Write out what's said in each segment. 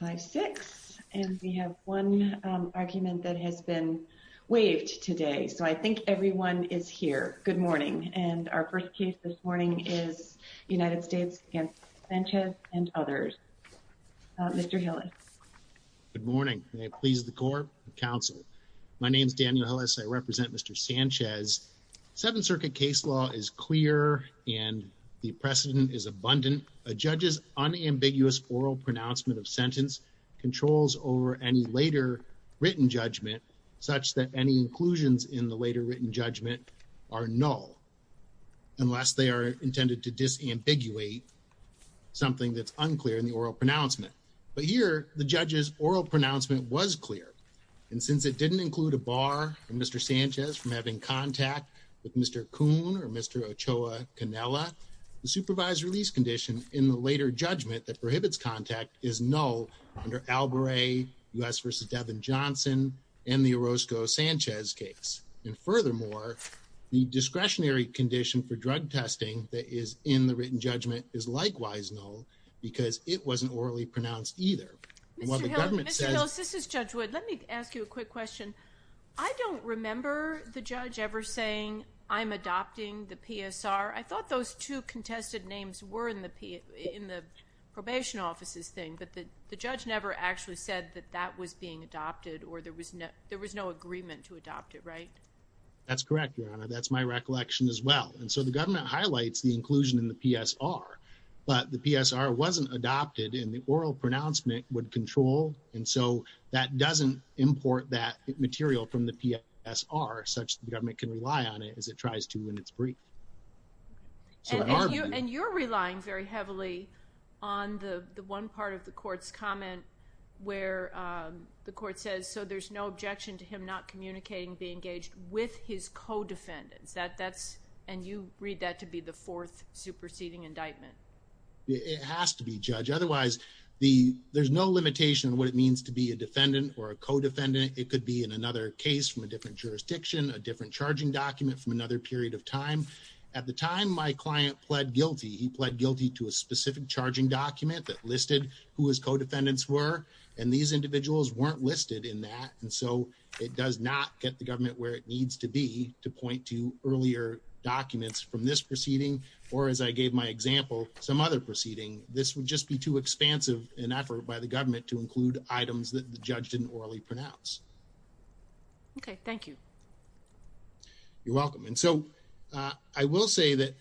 5-6 and we have one argument that has been waived today so I think everyone is here. Good morning and our first case this morning is United States against Sanchez and others. Mr. Hillis. Good morning. May it please the court and counsel. My name is Daniel Hillis. I represent Mr. Sanchez. Seventh Circuit case law is clear and the precedent is abundant. A judge's unambiguous oral pronouncement of sentence controls over any later written judgment such that any inclusions in the later written judgment are null unless they are intended to disambiguate something that's unclear in the oral pronouncement. But here the judge's oral pronouncement was clear and since it didn't include a bar for Mr. Sanchez from having contact with Mr. Kuhn or Mr. Ochoa Canela, the supervised release condition in the later judgment that prohibits contact is null under Albury, U.S. v. Devin Johnson, and the Orozco-Sanchez case. And furthermore, the discretionary condition for drug testing that is in the written judgment is likewise null because it wasn't orally pronounced either. Mr. Hillis, this is Judge Wood. Let me ask you a quick question. I don't remember the judge ever saying, I'm adopting the PSR. I thought those two contested names were in the probation office's thing, but the judge never actually said that that was being adopted or there was no agreement to adopt it, right? That's correct, Your Honor. That's my recollection as well. And so the government highlights the inclusion in the PSR, but the PSR wasn't adopted and the oral pronouncement would control. And so that doesn't import that material from the PSR such that the government can rely on it as it tries to in its brief. And you're relying very heavily on the one part of the court's comment where the court says, so there's no objection to him not communicating, being engaged with his co-defendants. And you read that to be the fourth superseding indictment. It has to be, Judge. Otherwise, there's no limitation on what it means to be a defendant or a co-defendant. It could be in another case from different jurisdiction, a different charging document from another period of time. At the time, my client pled guilty. He pled guilty to a specific charging document that listed who his co-defendants were, and these individuals weren't listed in that. And so it does not get the government where it needs to be to point to earlier documents from this proceeding, or as I gave my example, some other proceeding. This would just be too expansive an effort by the government to You're welcome. And so I will say that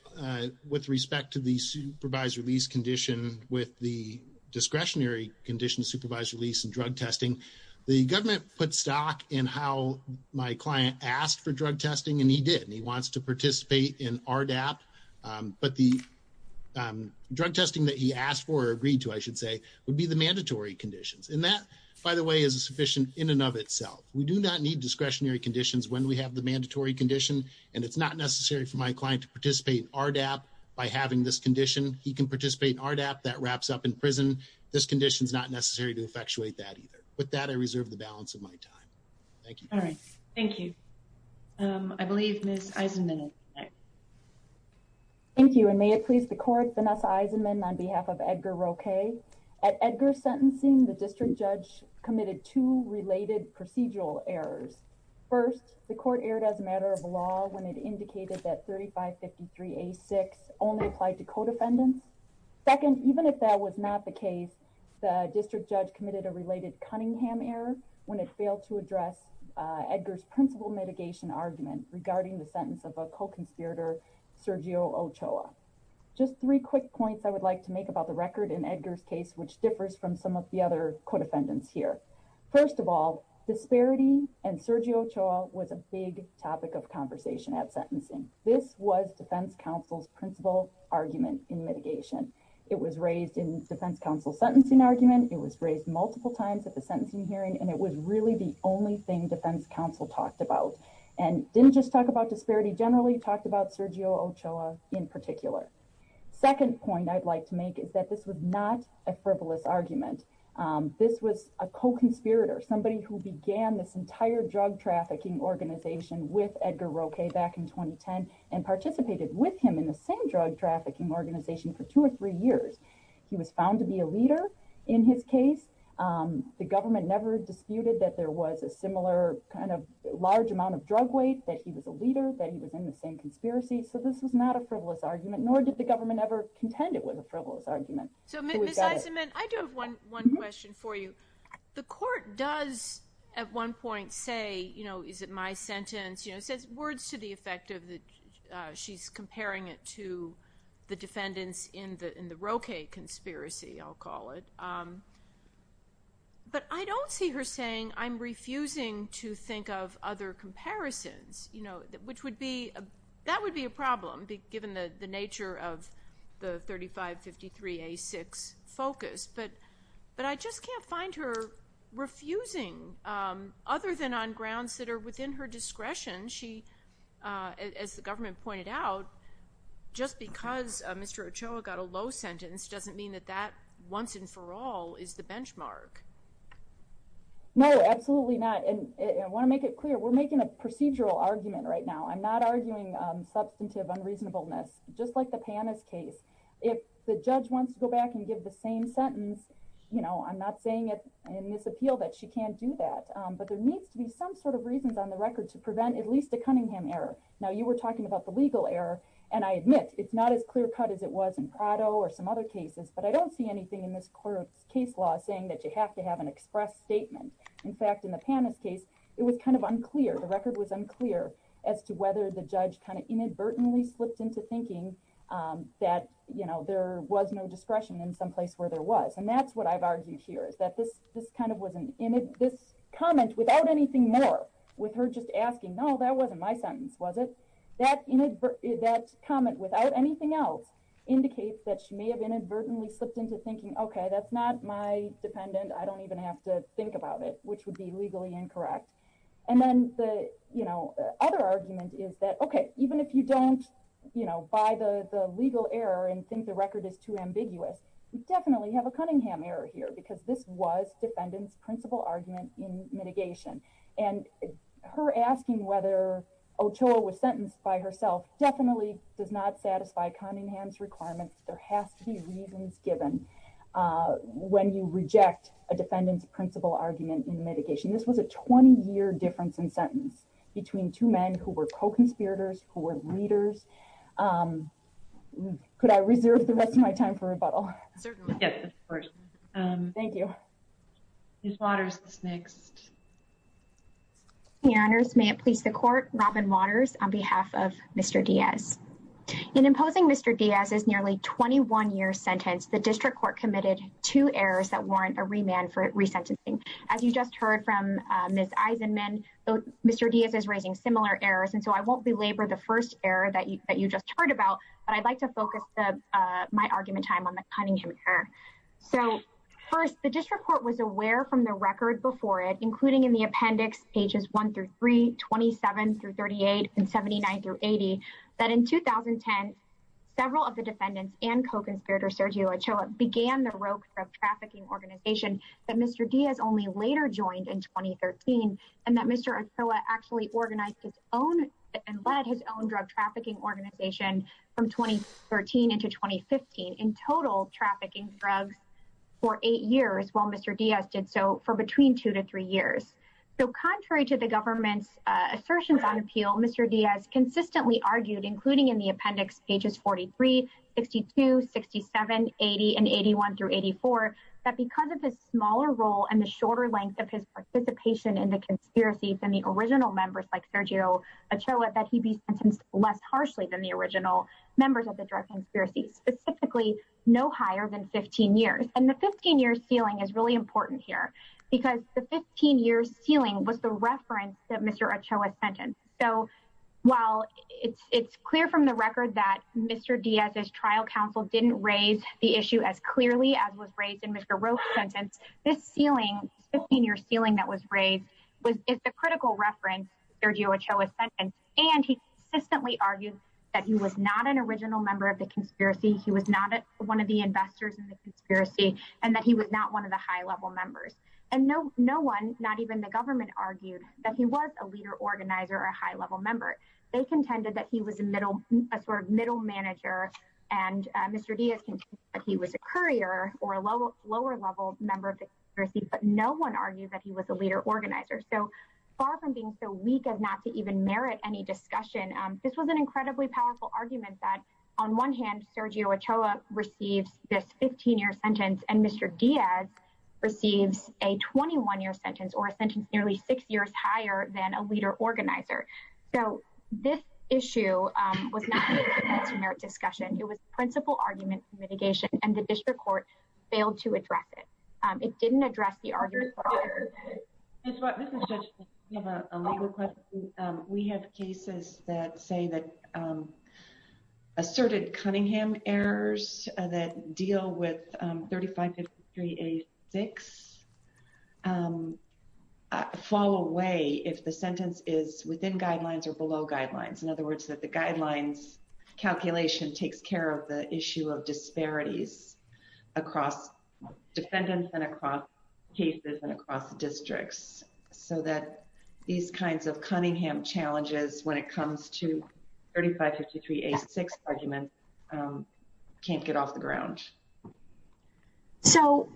with respect to the supervised release condition, with the discretionary conditions, supervised release and drug testing, the government put stock in how my client asked for drug testing, and he did, and he wants to participate in RDAP. But the drug testing that he asked for or agreed to, I should say, would be the mandatory conditions. And that, by the way, is sufficient in and of itself. We do not need discretionary conditions when we have the mandatory condition, and it's not necessary for my client to participate in RDAP by having this condition. He can participate in RDAP, that wraps up in prison. This condition's not necessary to effectuate that either. With that, I reserve the balance of my time. Thank you. All right. Thank you. I believe Ms. Eisenman. Thank you, and may it please the court, Vanessa Eisenman on behalf of Edgar Roque. At Edgar's sentencing, the district judge committed two related procedural errors. First, the court erred as a matter of law when it indicated that 3553A6 only applied to codefendants. Second, even if that was not the case, the district judge committed a related Cunningham error when it failed to address Edgar's principal mitigation argument regarding the sentence of a co-conspirator, Sergio Ochoa. Just three quick points I would like to make about the record in which differs from some of the other codefendants here. First of all, disparity and Sergio Ochoa was a big topic of conversation at sentencing. This was defense counsel's principal argument in mitigation. It was raised in defense counsel's sentencing argument. It was raised multiple times at the sentencing hearing, and it was really the only thing defense counsel talked about, and didn't just talk about disparity generally, talked about Sergio Ochoa in particular. Second point I'd like to make is that this was not a frivolous argument. This was a co-conspirator, somebody who began this entire drug trafficking organization with Edgar Roque back in 2010, and participated with him in the same drug trafficking organization for two or three years. He was found to be a leader in his case. The government never disputed that there was a similar kind of large amount of drug weight, that he was a leader, that he was in the same organization. Nor did the government ever contend it with a frivolous argument. So Ms. Eisenman, I do have one question for you. The court does at one point say, you know, is it my sentence? You know, it says words to the effect of that she's comparing it to the defendants in the Roque conspiracy, I'll call it. But I don't see her saying, I'm refusing to think of other comparisons, you know, which would be, that would be a problem, given the nature of the 3553A6 focus. But I just can't find her refusing, other than on grounds that are within her discretion. She, as the government pointed out, just because Mr. Ochoa got a low sentence doesn't mean that that once and for all is the benchmark. No, absolutely not. And I want to make it clear, we're making a procedural argument right now. I'm not arguing substantive unreasonableness, just like the Panis case. If the judge wants to go back and give the same sentence, you know, I'm not saying it in this appeal that she can't do that. But there needs to be some sort of reasons on the record to prevent at least a Cunningham error. Now you were talking about the legal error. And I admit, it's not as clear cut as it was in Prado or some other cases. But I don't see anything in this court's case law saying that you have to have an express statement. In fact, in the Panis case, it was kind of unclear, the record was unclear as to whether the judge kind of inadvertently slipped into thinking that, you know, there was no discretion in some place where there was. And that's what I've argued here is that this this kind of wasn't in this comment without anything more with her just asking, no, that wasn't my sentence, was it? That in that comment without anything else, indicates that she may have inadvertently slipped into thinking, okay, that's not my dependent, I don't have to think about it, which would be legally incorrect. And then the, you know, other argument is that, okay, even if you don't, you know, buy the legal error and think the record is too ambiguous, definitely have a Cunningham error here, because this was defendants principal argument in mitigation, and her asking whether Ochoa was sentenced by herself definitely does not satisfy Cunningham's requirements, there has to be reasons given when you reject a defendant's principal argument in mitigation. This was a 20 year difference in sentence between two men who were co conspirators who were leaders. Could I reserve the rest of my time for rebuttal? Thank you. Waters is next. Your Honors, may it please the court, Robin Waters on behalf of Mr. Diaz. In imposing Mr. Diaz's nearly 21 year sentence, the district court committed two errors that warrant a remand for resentencing. As you just heard from Ms. Eisenman, Mr. Diaz is raising similar errors. And so I won't belabor the first error that you that you just heard about. But I'd like to focus my argument time on the Cunningham error. So first, the district court was aware from the record before including in the appendix pages one through 327 through 38 and 79 through 80. That in 2010, several of the defendants and co conspirator Sergio Ochoa began the rope of trafficking organization that Mr. Diaz only later joined in 2013. And that Mr. Ochoa actually organized his own and led his own drug trafficking organization from 2013 into 2015 in total trafficking drugs for eight years while Mr. Diaz did so for between two to three years. So contrary to the government's assertions on appeal, Mr. Diaz consistently argued including in the appendix pages 43, 62, 67, 80 and 81 through 84. That because of his smaller role and the shorter length of his participation in the conspiracy than the original members like Sergio Ochoa that he'd be sentenced less harshly than the original members of the drug conspiracy specifically, no higher than 15 years. And the 15 year ceiling is really important here because the 15 year ceiling was the reference that Mr. Ochoa sent in. So while it's clear from the record that Mr. Diaz's trial counsel didn't raise the issue as clearly as was raised in Mr. Rowe's sentence, this ceiling 15 year ceiling that was raised was the critical reference Sergio Ochoa sent in and he consistently argued that he was not an original member of the conspiracy, he was not one of the investors in the conspiracy and that he was not one of the high-level members. And no one, not even the government argued that he was a leader organizer or a high-level member. They contended that he was a sort of middle manager and Mr. Diaz contended that he was a courier or a lower level member of the conspiracy but no one argued that he was a leader organizer. So far from being so weak as not to even merit any discussion, this was an incredibly powerful argument that on one hand Sergio Ochoa receives this 15-year sentence and Mr. Diaz receives a 21-year sentence or a sentence nearly six years higher than a leader organizer. So this issue was not a merit discussion, it was a principal argument for mitigation and the district court failed to address it. It didn't address the argument. Judge, we have a legal question. We have cases that say that asserted Cunningham errors that deal with 3553A6 fall away if the sentence is within guidelines or below guidelines. In other words, that the guidelines calculation takes care of the issue of disparities across defendants and across cases and across the districts so that these kinds of Cunningham challenges when it comes to 3553A6 argument can't get off the ground. So...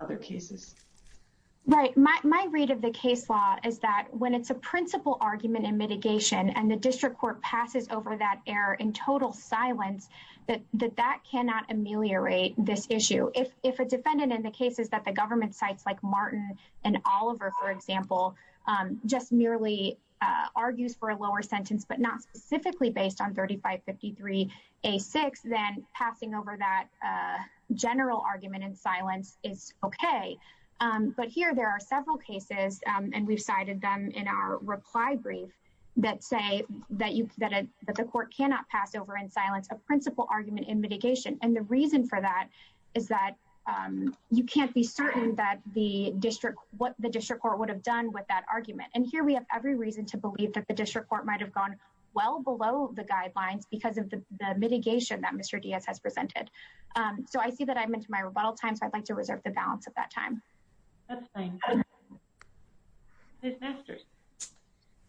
Other cases. Right. My read of the case law is that when it's a principal argument in mitigation and the district court passes over that error in total silence that that cannot ameliorate this issue. If a defendant in the case is that the government sites like Martin and Oliver for example just merely argues for a lower sentence but not specifically based on 3553A6 then passing over that general argument in silence is okay. But here there are several cases and we've cited them in our reply brief that say that the court cannot pass over in silence a principal argument in mitigation and the reason for that is that you can't be certain that the district what the district court would have done with that argument and here we have every reason to believe that the district court might have gone well below the guidelines because of the mitigation that Mr. Diaz has presented. So I see that I'm into my rebuttal time so I'd like to reserve the balance at that time. That's fine. Ms. Masters.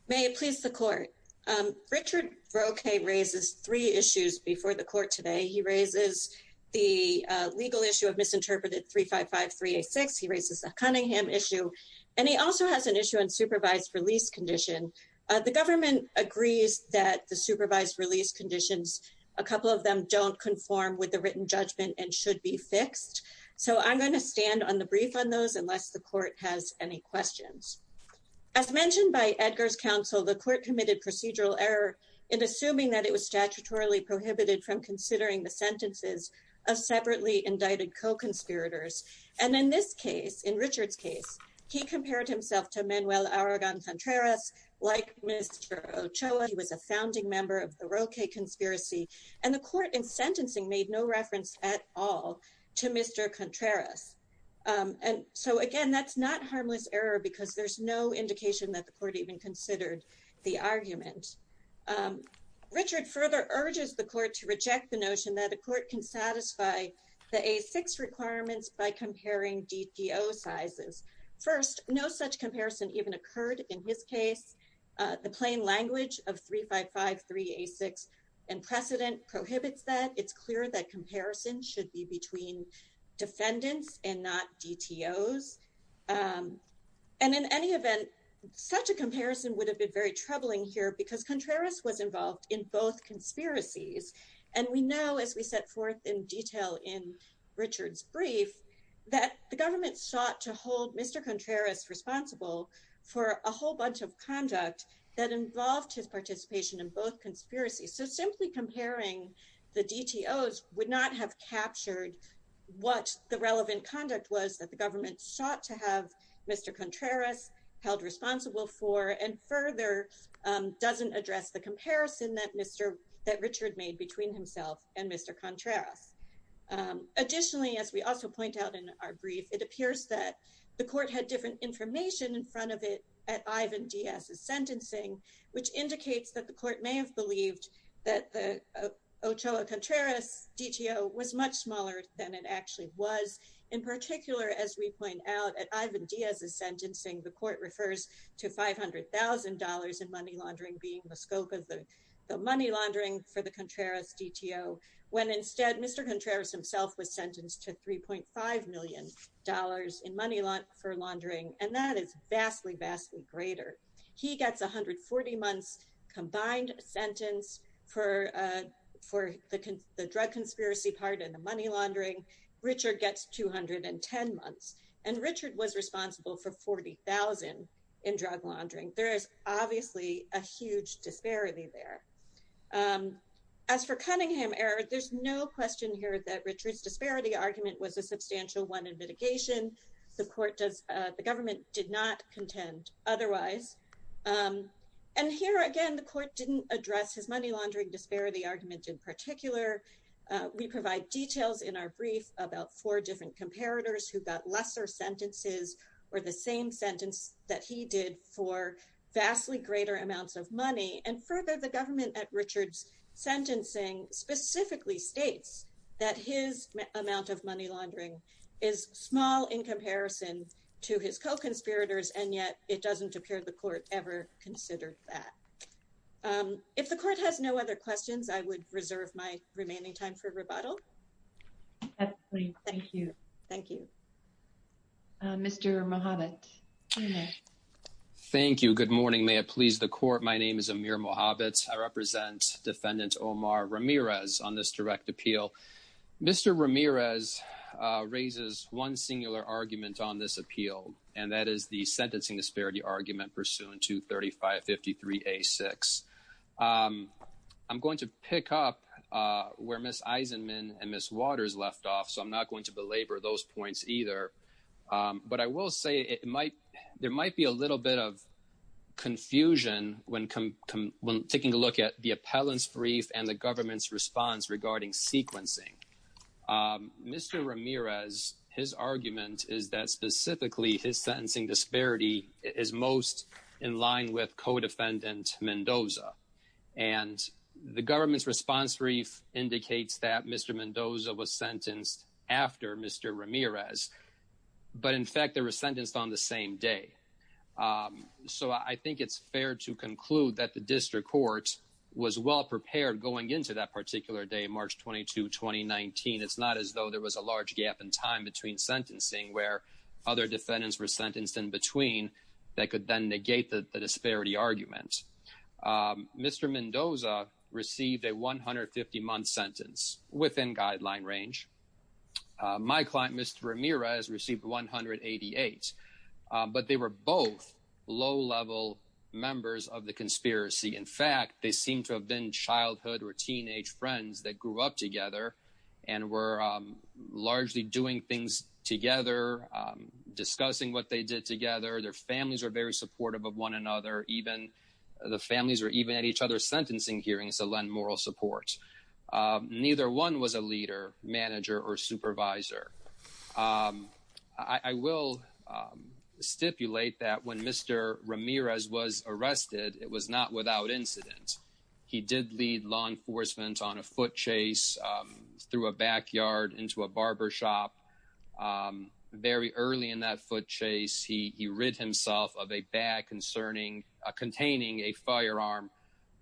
May it please the court. Richard Roque raises three issues in the court today. He raises the legal issue of misinterpreted 3553A6. He raises a Cunningham issue and he also has an issue on supervised release condition. The government agrees that the supervised release conditions a couple of them don't conform with the written judgment and should be fixed. So I'm going to stand on the brief on those unless the court has any questions. As mentioned by Edgar's counsel the court committed procedural error in assuming that it was considering the sentences of separately indicted co-conspirators and in this case in Richard's case he compared himself to Manuel Aragon Contreras like Mr. Ochoa. He was a founding member of the Roque conspiracy and the court in sentencing made no reference at all to Mr. Contreras. And so again that's not harmless error because there's no indication that the court even considered the argument. Richard further urges the court to reject the notion that a court can satisfy the A6 requirements by comparing DTO sizes. First no such comparison even occurred in his case. The plain language of 3553A6 and precedent prohibits that. It's clear that have been very troubling here because Contreras was involved in both conspiracies and we know as we set forth in detail in Richard's brief that the government sought to hold Mr. Contreras responsible for a whole bunch of conduct that involved his participation in both conspiracies. So simply comparing the DTOs would not have captured what the relevant conduct was that the government sought to have Mr. Contreras held responsible for and further doesn't address the comparison that Richard made between himself and Mr. Contreras. Additionally as we also point out in our brief it appears that the court had different information in front of it at Ivan Diaz's sentencing which indicates that the court may have believed that the Ochoa Contreras DTO was much smaller than it actually was. In particular as we point out at Ivan Diaz's sentencing the court refers to $500,000 in money laundering being the scope of the money laundering for the Contreras DTO when instead Mr. Contreras himself was sentenced to $3.5 million in money for laundering and that is vastly vastly greater. He gets 140 months combined sentence for the drug conspiracy part in the money laundering. Richard gets 210 months and Richard was responsible for $40,000 in drug laundering. There is obviously a huge disparity there. As for Cunningham error there's no question here that Richard's disparity argument was a substantial one in mitigation. The court does the government did not contend otherwise and here again the court didn't address his money laundering disparity argument in particular. We provide details in our brief about four different comparators who got lesser sentences or the same sentence that he did for vastly greater amounts of money and further the government at Richard's sentencing specifically states that his amount of money laundering is small in comparison to his co-conspirators and yet it doesn't appear the court ever considered that. If the court has no other questions I would reserve my remaining time for rebuttal. Absolutely. Thank you. Thank you. Mr. Mohamed. Thank you. Good morning. May it please the court. My name is Amir Mohamed. I represent defendant Omar Ramirez on this direct appeal. Mr. Ramirez raises one singular argument on this appeal and that is the sentencing disparity argument pursuant to 3553A6. I'm going to pick up where Ms. Eisenman and Ms. Waters left off so I'm not going to belabor those points either but I will say it might there might be a little bit of confusion when taking a look at the appellant's brief and the government's response regarding sequencing. Mr. Ramirez his argument is that specifically his sentencing disparity is most in line with co-defendant Mendoza and the government's response brief indicates that Mr. Mendoza was sentenced after Mr. Ramirez but in fact they were sentenced on the same day. So I think it's fair to conclude that the district court was well prepared going into that particular day March 22, 2019. It's not as though there was a large gap in time between sentencing where other defendants were sentenced in between that could then negate the disparity argument. Mr. Mendoza received a 150-month sentence within guideline range. My client Mr. Ramirez received 188 but they were both low-level members of the conspiracy. In teenage friends that grew up together and were largely doing things together, discussing what they did together, their families were very supportive of one another even the families were even at each other's sentencing hearings to lend moral support. Neither one was a leader, manager, or supervisor. I will stipulate that when Mr. Ramirez was law enforcement on a foot chase through a backyard into a barber shop, very early in that foot chase he rid himself of a bag containing a firearm.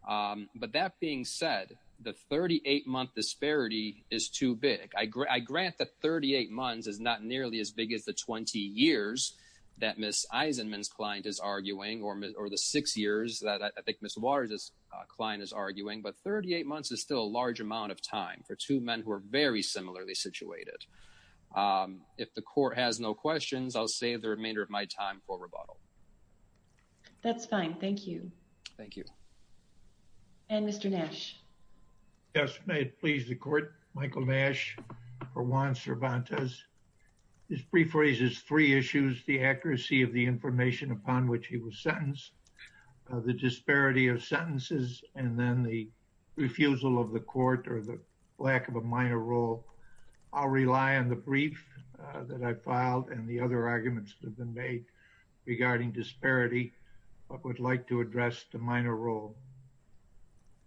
But that being said, the 38-month disparity is too big. I grant that 38 months is not nearly as big as the 20 years that Ms. Eisenman's client is arguing or the six years that I think Ms. Waters' client is arguing but 38 months is still a large amount of time for two men who are very similarly situated. If the court has no questions I'll save the remainder of my time for rebuttal. That's fine, thank you. Thank you. And Mr. Nash. Yes, may it please the court. Michael Nash for Juan Cervantes. This brief raises three issues, the accuracy of the information upon which he was sentenced, the disparity of sentences, and then the refusal of the court or the lack of a minor role. I'll rely on the brief that I filed and the other arguments that have been made regarding disparity but would like to address the minor role.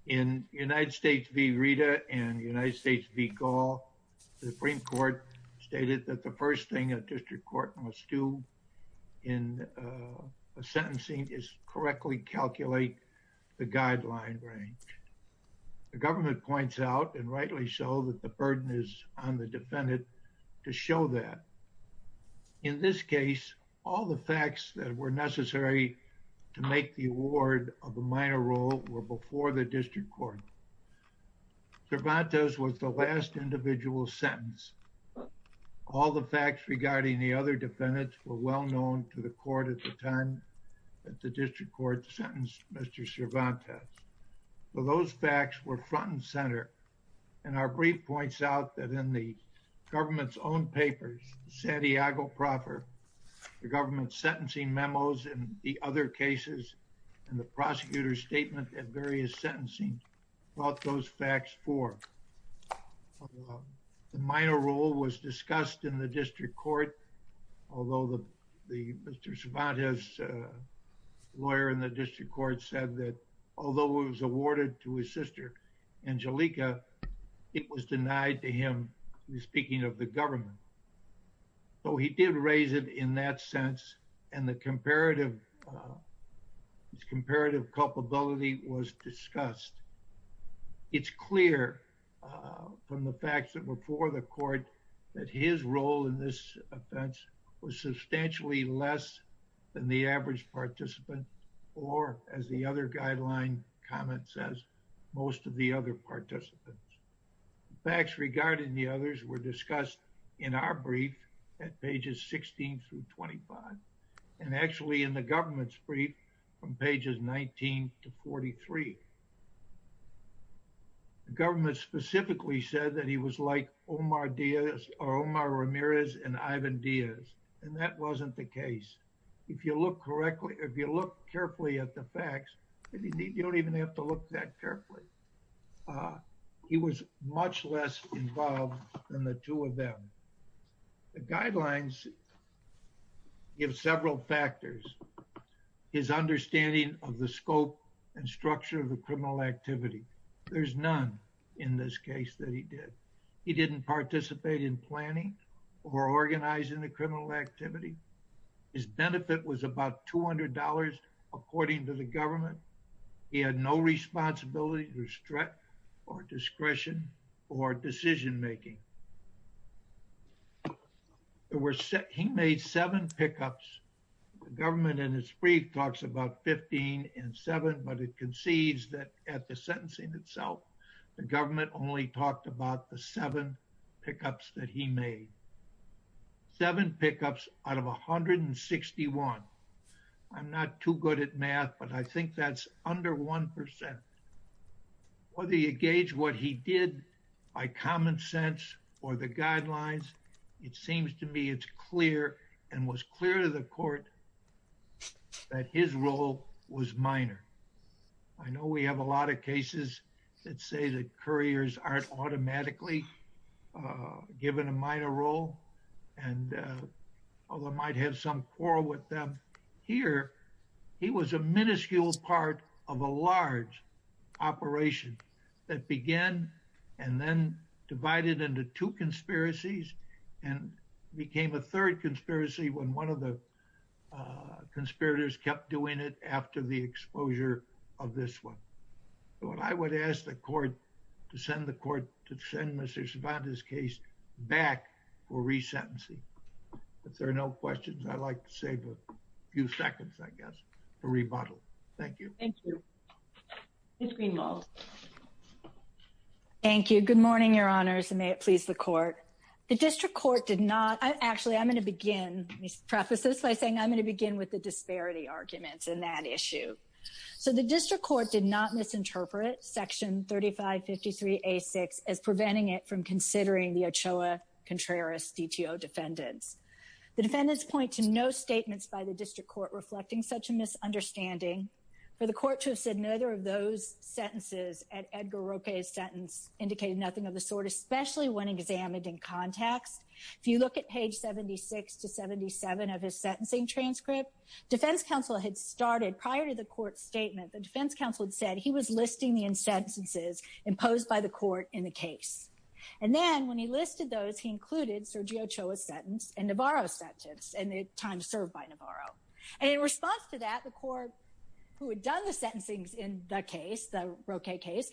In United States v. Rita and United States v. Gall, the Supreme Court stated that the first thing a district court must do in a sentencing is correctly calculate the guideline range. The government points out and rightly so that the burden is on the defendant to show that. In this case, all the facts that were necessary to make the award of a minor role were before the other defendants were well known to the court at the time that the district court sentenced Mr. Cervantes. Those facts were front and center and our brief points out that in the government's own papers, Santiago proper, the government's sentencing memos and the other cases and the prosecutor's statement at various sentencing brought those facts forth. The minor role was not raised in the district court, although Mr. Cervantes' lawyer in the district court said that although it was awarded to his sister Angelica, it was denied to him, speaking of the government. So he did raise it in that sense and the comparative culpability was discussed. It's clear from the facts that were before the court that his role in this offense was substantially less than the average participant or as the other guideline comment says, most of the other participants. The facts regarding the others were discussed in our brief at pages 16 through 25 and actually in the government's brief from pages 19 to 43. The government specifically said that he was like Omar Ramirez and Ivan Diaz and that wasn't the case. If you look correctly, if you look carefully at the facts, you don't even have to look that give several factors, his understanding of the scope and structure of the criminal activity. There's none in this case that he did. He didn't participate in planning or organizing the criminal activity. His benefit was about $200 according to the government. He had no responsibility or discretion or decision making. He made seven pickups. The government in his brief talks about 15 and seven, but it concedes that at the sentencing itself, the government only talked about the seven pickups that he made. Seven pickups out of 161. I'm not too good at math, but I think that's under 1%. Whether you gauge what he did by common sense or the guidelines, it seems to me it's clear and was clear to the court that his role was minor. I know we have a lot of cases that say that couriers aren't automatically given a minor role and although might have some quarrel with them here, he was a minuscule part of a large operation that began and then divided into two conspiracies and became a third conspiracy when one of the conspirators kept doing it after the exposure of this one. I would ask the court to send Mr. Cervantes' case back for resentencing. If there are no questions, I'd like to save a few seconds, I guess, for rebuttal. Thank you. Thank you. Ms. Greenwald. Thank you. Good morning, your honors, and may it please the court. The district court did not, actually, I'm going to begin, let me preface this by saying I'm going to begin with the as preventing it from considering the Ochoa Contreras DTO defendants. The defendants point to no statements by the district court reflecting such a misunderstanding. For the court to have said neither of those sentences at Edgar Roque's sentence indicated nothing of the sort, especially when examined in context. If you look at page 76 to 77 of his sentencing transcript, defense counsel had started prior to the court statement, the defense counsel had said he was listing the sentences imposed by the court in the case. And then when he listed those, he included Sergio Ochoa's sentence and Navarro's sentence and the time served by Navarro. And in response to that, the court, who had done the sentencing in the case, the Roque case,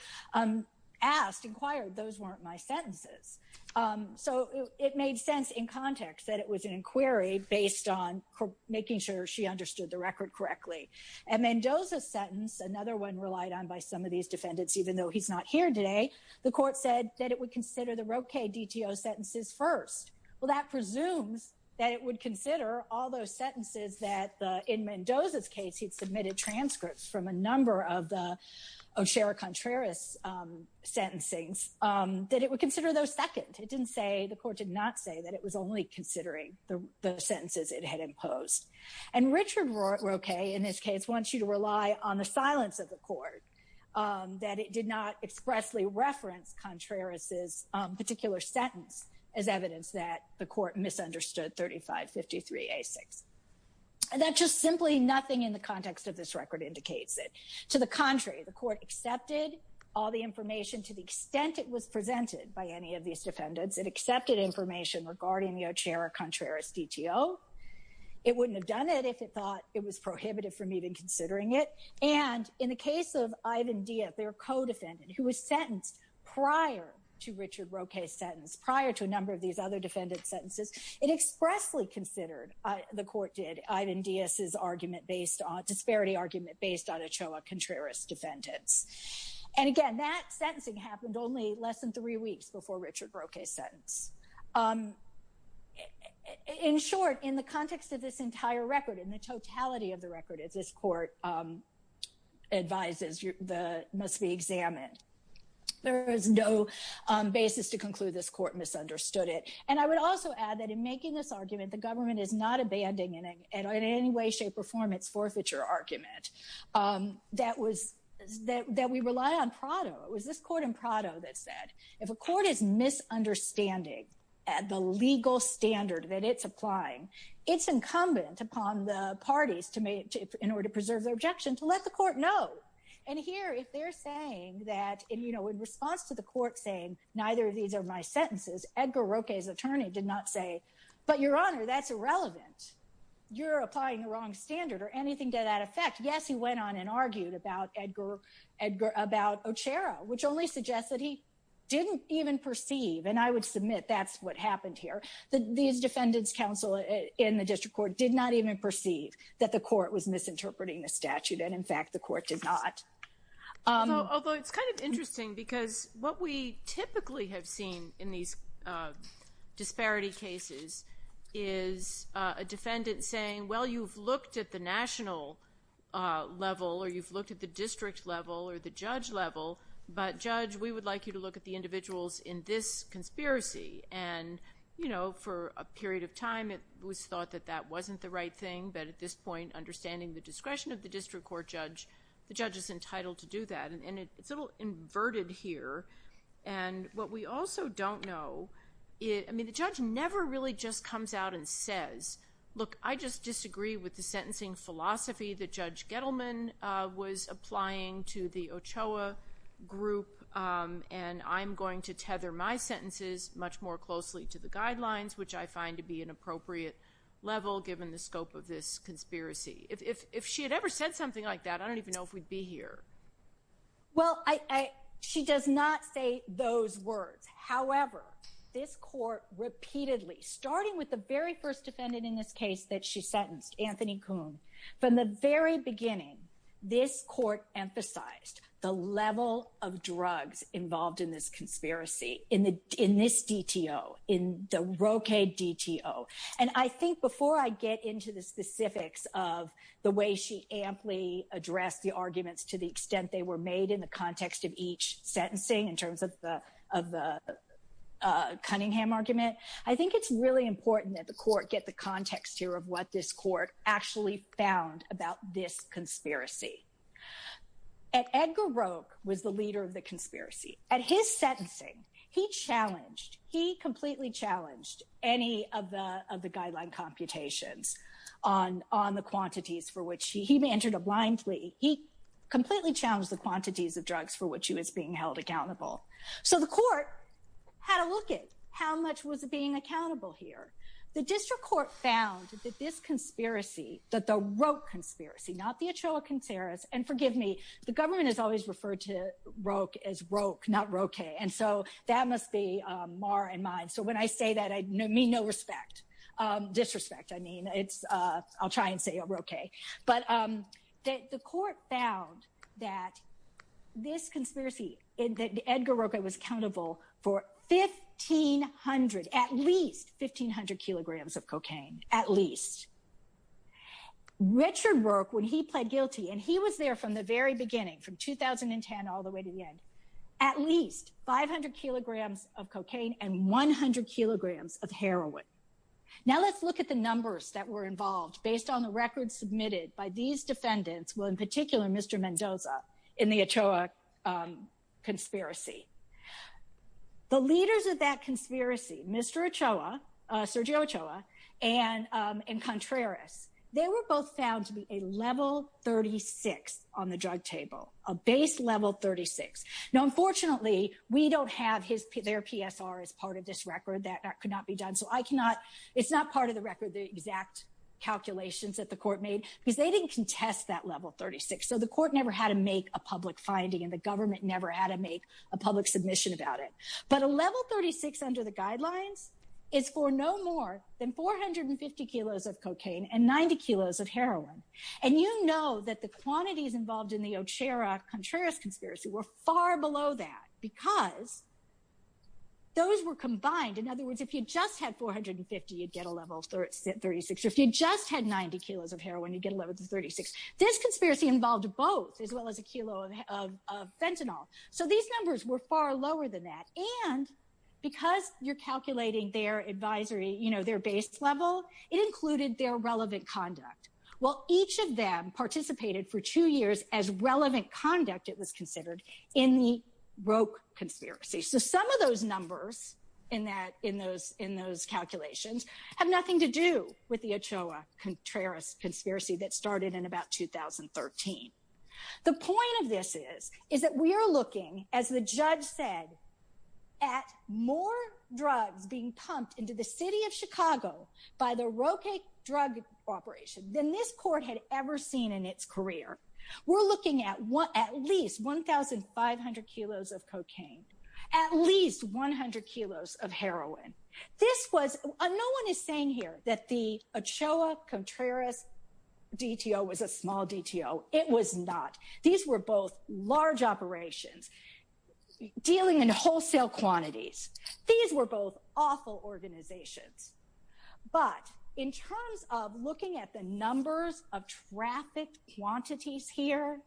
asked, inquired, those weren't my sentences. So it made sense in context that it was an inquiry based on making sure she understood the record correctly. And Mendoza's sentence, another one relied on by some of these defendants, even though he's not here today, the court said that it would consider the Roque DTO sentences first. Well, that presumes that it would consider all those sentences that, in Mendoza's case, he'd submitted transcripts from a number of the Ochoa Contreras sentencings, that it would consider those second. It didn't say, the court did not say that it was only considering the sentences it had imposed. And Richard Roque, in this case, wants you to rely on the silence of the court, that it did not expressly reference Contreras' particular sentence as evidence that the court misunderstood 3553A6. And that just simply nothing in the context of this record indicates it. To the contrary, the court accepted all the information to the extent it was presented by any of these defendants. It accepted information regarding the Ochoa Contreras DTO. It wouldn't have done it if it thought it was prohibitive from even considering it. And in the case of Ivan Diaz, their co-defendant, who was sentenced prior to Richard Roque's sentence, prior to a number of these other defendant's sentences, it expressly considered, the court did, Ivan Diaz's argument based on, disparity argument based on Ochoa Contreras defendants. And again, that sentencing happened only less than three weeks before Richard Roque's sentence. In short, in the context of this entire record, in the totality of the record at this advises, the must be examined. There is no basis to conclude this court misunderstood it. And I would also add that in making this argument, the government is not abandoning in any way, shape or form its forfeiture argument. That was, that we rely on Prado. It was this court in Prado that said, if a court is misunderstanding at the legal standard that it's applying, it's incumbent upon the parties to make, in order to preserve their objection to let the court know. And here, if they're saying that, and you know, in response to the court saying, neither of these are my sentences, Edgar Roque's attorney did not say, but your honor, that's irrelevant. You're applying the wrong standard or anything to that effect. Yes, he went on and argued about Edgar, Edgar, about Ochoa, which only suggests that he didn't even perceive. And I would submit that's what happened here. These defendants counsel in the district court did not even perceive that the court was misinterpreting the statute. And in fact, the court did not. Although it's kind of interesting because what we typically have seen in these disparity cases is a defendant saying, well, you've looked at the national level or you've looked at the district level or the judge level, but judge, we would like you to look at the individuals in this conspiracy. And, you know, for a period of time, it was thought that that wasn't the right thing. But at this point, understanding the discretion of the district court judge, the judge is entitled to do that. And it's a little inverted here. And what we also don't know, I mean, the judge never really just comes out and says, look, I just disagree with the sentencing philosophy that Judge Gettleman was applying to the Ochoa group. And I'm going to tether my sentences much more closely to the guidelines, which I find to be an appropriate level given the scope of this conspiracy. If she had ever said something like that, I don't even know if we'd be here. Well, she does not say those words. However, this court repeatedly, starting with the very first defendant in this case that she sentenced, Anthony Kuhn, from the very beginning, this court emphasized the level of drugs involved in this conspiracy, in this DTO, in the Roque DTO. And I think before I get into the specifics of the way she amply addressed the arguments to the extent they were made in the context of each sentencing in terms of the Cunningham argument, I think it's really important that the court get the context here of what this court actually found about this conspiracy. And Edgar Roque was the leader of the conspiracy. At his sentencing, he challenged, he completely challenged any of the of the guideline computations on the quantities for which he, he managed it blindly. He completely challenged the quantities of drugs for which he was being held accountable. So the court had a look at how much was being accountable here. The district court found that this conspiracy, that the Roque conspiracy, not the Ochoa-Conseras, and forgive me, the government has always referred to Roque as Roque, not Roque. And so that must be more in mind. So when I say that, I mean no respect, disrespect. I mean, it's, I'll try and say Roque. But the court found that this conspiracy, that Edgar Roque was accountable for 1,500, at least 1,500 kilograms of cocaine, at least. Richard Roque, when he pled guilty, and he was there from the very beginning, from 2010 all the way to the end, at least 500 kilograms of cocaine and 100 kilograms of heroin. Now let's look at the numbers that were involved based on the records submitted by these defendants, well in particular Mr. Mendoza, in the Ochoa conspiracy. The leaders of that conspiracy, Mr. Ochoa, Sergio Ochoa, and Contreras, they were both found to be a level 36 on the drug table, a base level 36. Now unfortunately, we don't have his, their PSR as part of this record. That could not be done. So I cannot, it's not part of the record, the exact calculations that the court made because they didn't contest that level 36. So the court never had to make a public finding and the government never had to make a public submission about it. But a level 36 under the guidelines is for no more than 450 kilos of cocaine and 90 kilos of heroin. And you know that the quantities involved in the Ochoa-Contreras conspiracy were far below that because those were combined. In other words, if you just had 450, you'd get a level 36. If you just had 90 kilos of heroin, you'd get a level 36. This conspiracy involved both as well as a kilo of fentanyl. So these numbers were far lower than that. And because you're calculating their advisory, you know, their base level, it included their relevant conduct. Well, each of them participated for two years as relevant conduct it was considered in the Roque conspiracy. So some of those numbers in those calculations have nothing to do with the Ochoa-Contreras conspiracy that started in about 2013. The point of this is, is that we are looking, as the judge said, at more drugs being pumped into the city of Chicago by the Roque drug operation than this at least 100 kilos of heroin. This was, no one is saying here that the Ochoa-Contreras DTO was a small DTO. It was not. These were both large operations dealing in wholesale quantities. These were both awful organizations. But in terms of looking at the numbers of traffic quantities here,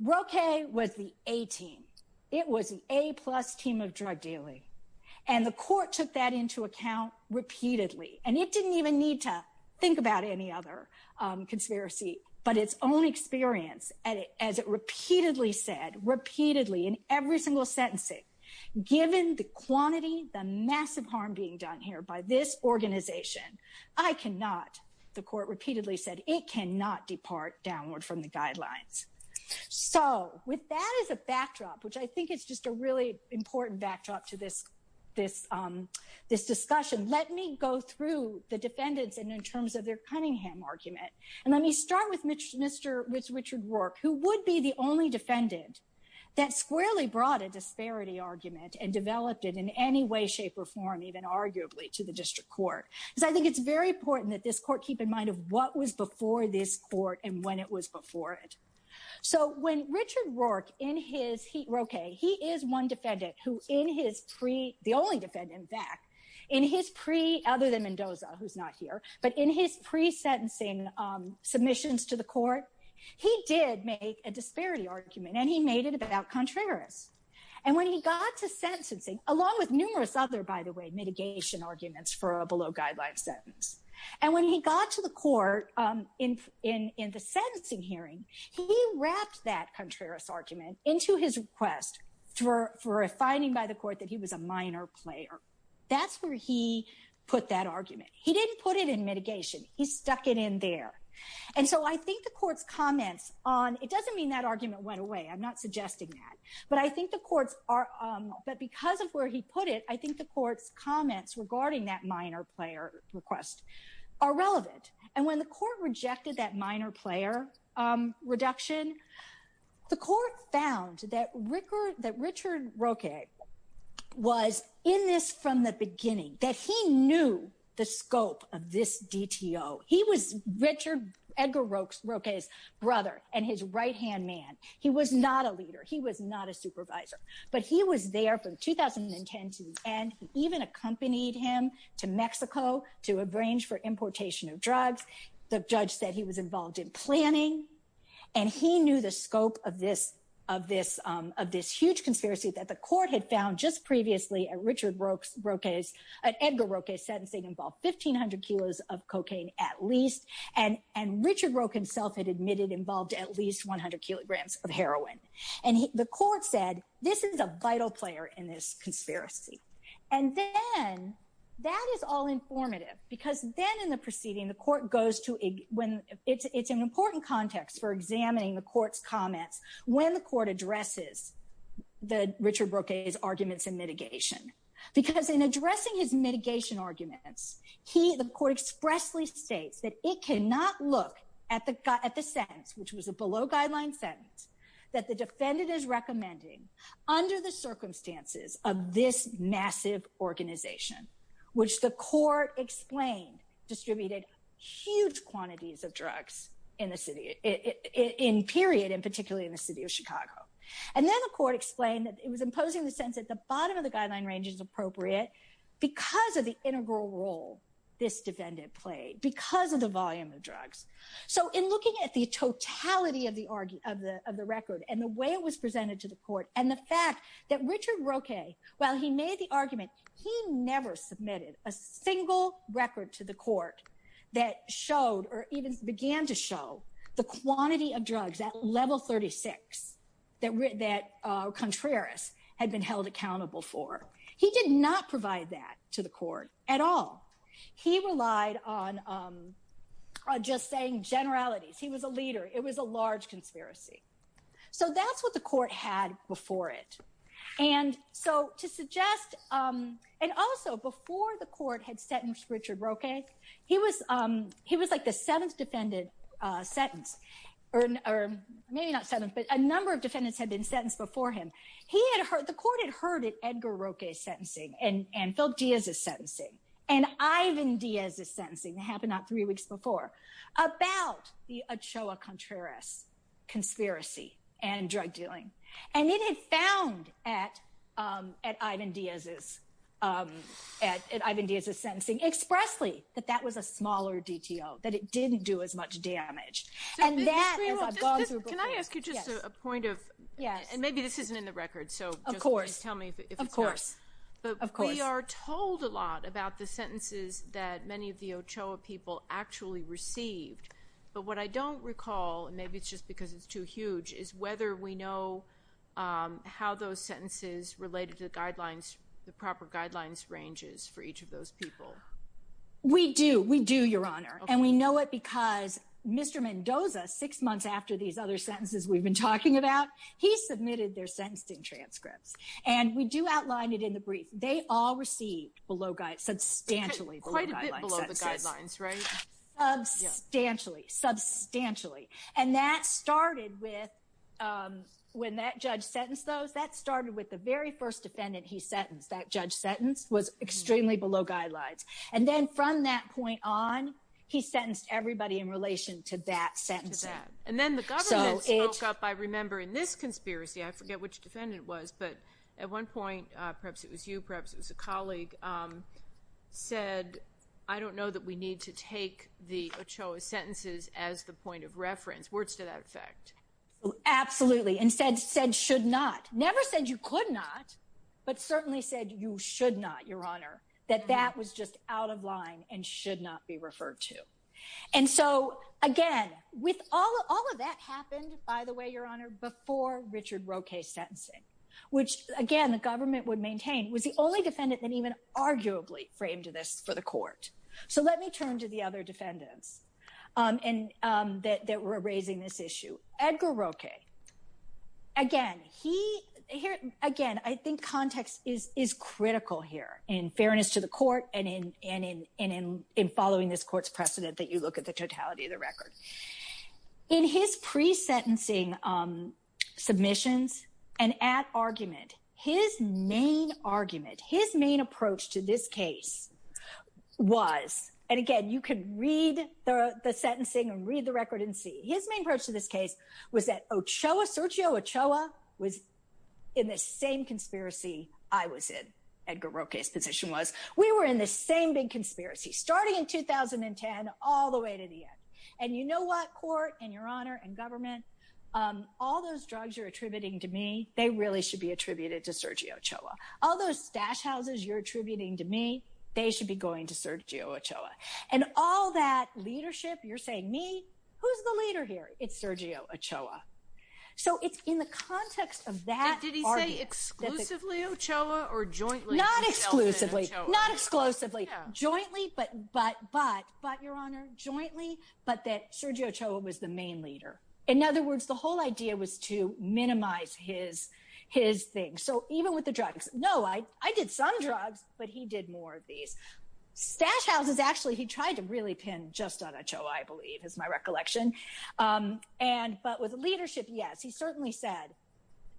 Roque was the A-team. It was the A-plus team of drug dealing. And the court took that into account repeatedly. And it didn't even need to think about any other conspiracy, but its own experience, as it repeatedly said, repeatedly in every single sentencing, given the quantity, the massive harm being done here by this organization, I cannot, the court repeatedly said, it cannot depart downward from the guidelines. So with that as a backdrop, which I think is just a really important backdrop to this discussion, let me go through the defendants and in terms of their Cunningham argument. And let me start with Richard Roque, who would be the only defendant that squarely brought a disparity argument and developed it in any way, shape, or form, even arguably to the district court. Because I think it's very important that this court keep in mind of what was before this court and when it was before it. So when Richard Roque, in his, Roque, he is one defendant who in his pre, the only defendant in fact, in his pre, other than Mendoza, who's not here, but in his pre-sentencing submissions to the court, he did make a disparity argument and he made it about Contreras. And when he got to sentencing, along with numerous other, by the way, mitigation arguments for a low-guideline sentence. And when he got to the court in the sentencing hearing, he wrapped that Contreras argument into his request for a finding by the court that he was a minor player. That's where he put that argument. He didn't put it in mitigation, he stuck it in there. And so I think the court's comments on, it doesn't mean that argument went away, I'm not suggesting that, but I think the courts are, but because of where he put it, I think the court's comments regarding that minor player request are relevant. And when the court rejected that minor player reduction, the court found that Richard Roque was in this from the beginning, that he knew the scope of this DTO. He was Richard, Edgar Roque's brother and his right-hand man. He was not a leader. He was not a supervisor. But he was there from 2010 to the end. He even accompanied him to Mexico to arrange for importation of drugs. The judge said he was involved in planning. And he knew the scope of this huge conspiracy that the court had found just previously at Richard Roque's, at Edgar Roque's sentencing involved 1500 kilos of cocaine at least. And Richard Roque himself had admitted involved at least 100 kilograms of heroin. And the court said, this is a vital player in this conspiracy. And then that is all informative because then in the proceeding, the court goes to, it's an important context for examining the court's comments when the court addresses the Richard Roque's arguments in mitigation. Because in addressing his mitigation arguments, the court expressly states that it cannot look at the sentence, which was a below guideline sentence, that the defendant is recommending under the circumstances of this massive organization, which the court explained distributed huge quantities of drugs in the city, in period, and particularly in the city of Chicago. And then the court explained that it was imposing the sense that the bottom of the guideline range is appropriate because of the integral role this defendant played because of the volume of drugs. So in looking at the totality of the record and the way it was presented to the court, and the fact that Richard Roque, while he made the argument, he never submitted a single record to the court that showed or even began to show the quantity of drugs at level 36 that Contreras had been held accountable for. He did not provide that to the court at all. He relied on just saying generalities. He was a leader. It was a large conspiracy. So that's what the court had before it. And so to suggest, and also before the court had sentenced Richard Roque, he was like the seventh defendant sentenced, or maybe not seventh, but a number of defendants had been sentenced before him. The court had heard of Edgar Roque's sentencing, it happened about three weeks before, about the Ochoa-Contreras conspiracy and drug dealing. And it had found at Ivan Diaz's sentencing expressly that that was a smaller DTO, that it didn't do as much damage. And that is a bogus report. Can I ask you just a point of, and maybe this isn't in the record, so just please tell me if sentences that many of the Ochoa people actually received, but what I don't recall, and maybe it's just because it's too huge, is whether we know how those sentences related to the proper guidelines ranges for each of those people. We do. We do, Your Honor. And we know it because Mr. Mendoza, six months after these other sentences we've been talking about, he submitted their sentencing transcripts. And we do outline it in the brief. They all received substantially below guidelines sentences. Quite a bit below the guidelines, right? Substantially. Substantially. And that started with, when that judge sentenced those, that started with the very first defendant he sentenced, that judge sentenced, was extremely below guidelines. And then from that point on, he sentenced everybody in relation to that sentencing. And then the government spoke up, I remember in this conspiracy, I forget which defendant it was, but at one point, perhaps it was you, perhaps it was a colleague, said, I don't know that we need to take the Ochoa sentences as the point of reference. Words to that effect. Absolutely. And said, should not. Never said you could not, but certainly said you should not, Your Honor. That that was just out of line and should not be referred to. And so, again, with all of that happened, by the way, Your Honor, before Richard Roque's sentencing, which again, the government would maintain was the only defendant that even arguably framed this for the court. So let me turn to the other defendants and that were raising this issue. Edgar Roque. Again, he, again, I think context is critical here in fairness to the court and in following this court's precedent that you look at the totality of the record. In his pre-sentencing submissions and at argument, his main argument, his main approach to this case was, and again, you can read the sentencing and read the record and see, his main approach to this case was that Ochoa, Sergio Ochoa was in the same conspiracy I was in, Edgar Roque's position was. We were in the same big conspiracy starting in 2010 all the way to the end. And you know what, court and Your Honor and government, all those drugs you're attributing to me, they really should be attributed to Sergio Ochoa. All those stash houses you're attributing to me, they should be going to Sergio Ochoa. And all that leadership, you're saying me, who's the leader here? It's Sergio Ochoa. So it's in the context of that argument. Did he say exclusively Ochoa or jointly? Not exclusively, not exclusively, jointly, but Your Honor, jointly, but that Sergio Ochoa was the main leader. In other words, the whole idea was to minimize his thing. So even with the drugs, no, I did some drugs, but he did more of these. Stash houses, actually, he tried to really pin just on Ochoa, I believe, is my recollection. But with leadership, yes, he certainly said,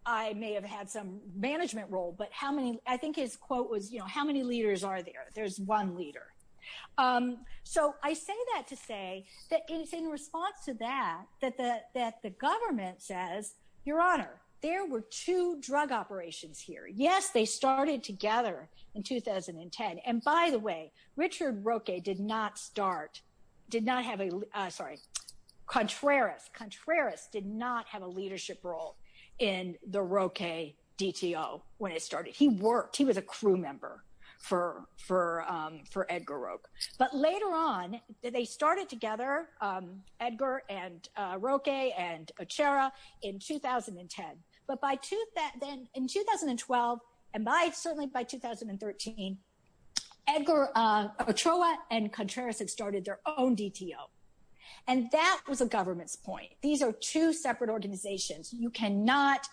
I may have had some management role, but how many, I think his quote was, you know, how many leaders are there? There's one leader. So I say that to say that it's in response to that, that the government says, Your Honor, there were two drug operations here. Yes, they started together in 2010. And by the way, Richard Roque did not start, did not have a, sorry, Contreras, Contreras did not have a leadership role in the Roque DTO when it started. He worked, he was a crew member for Edgar Roque. But later on, they started together, Edgar and Roque and Ochoa in 2010. But by then, in 2012, and by certainly by 2013, Ochoa and Contreras had their own DTO. And that was a government's point. These are two separate organizations, you cannot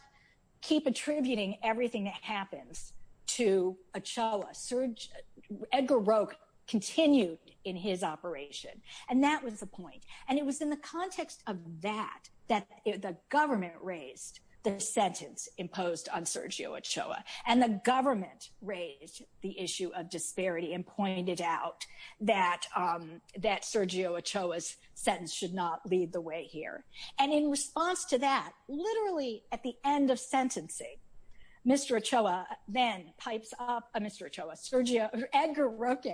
keep attributing everything that happens to Ochoa. Edgar Roque continued in his operation. And that was the point. And it was in the context of that, that the government raised the sentence imposed on Sergio Ochoa. And the government raised the issue of disparity and that Sergio Ochoa's sentence should not lead the way here. And in response to that, literally at the end of sentencing, Mr. Ochoa then pipes up, Mr. Ochoa, Sergio, Edgar Roque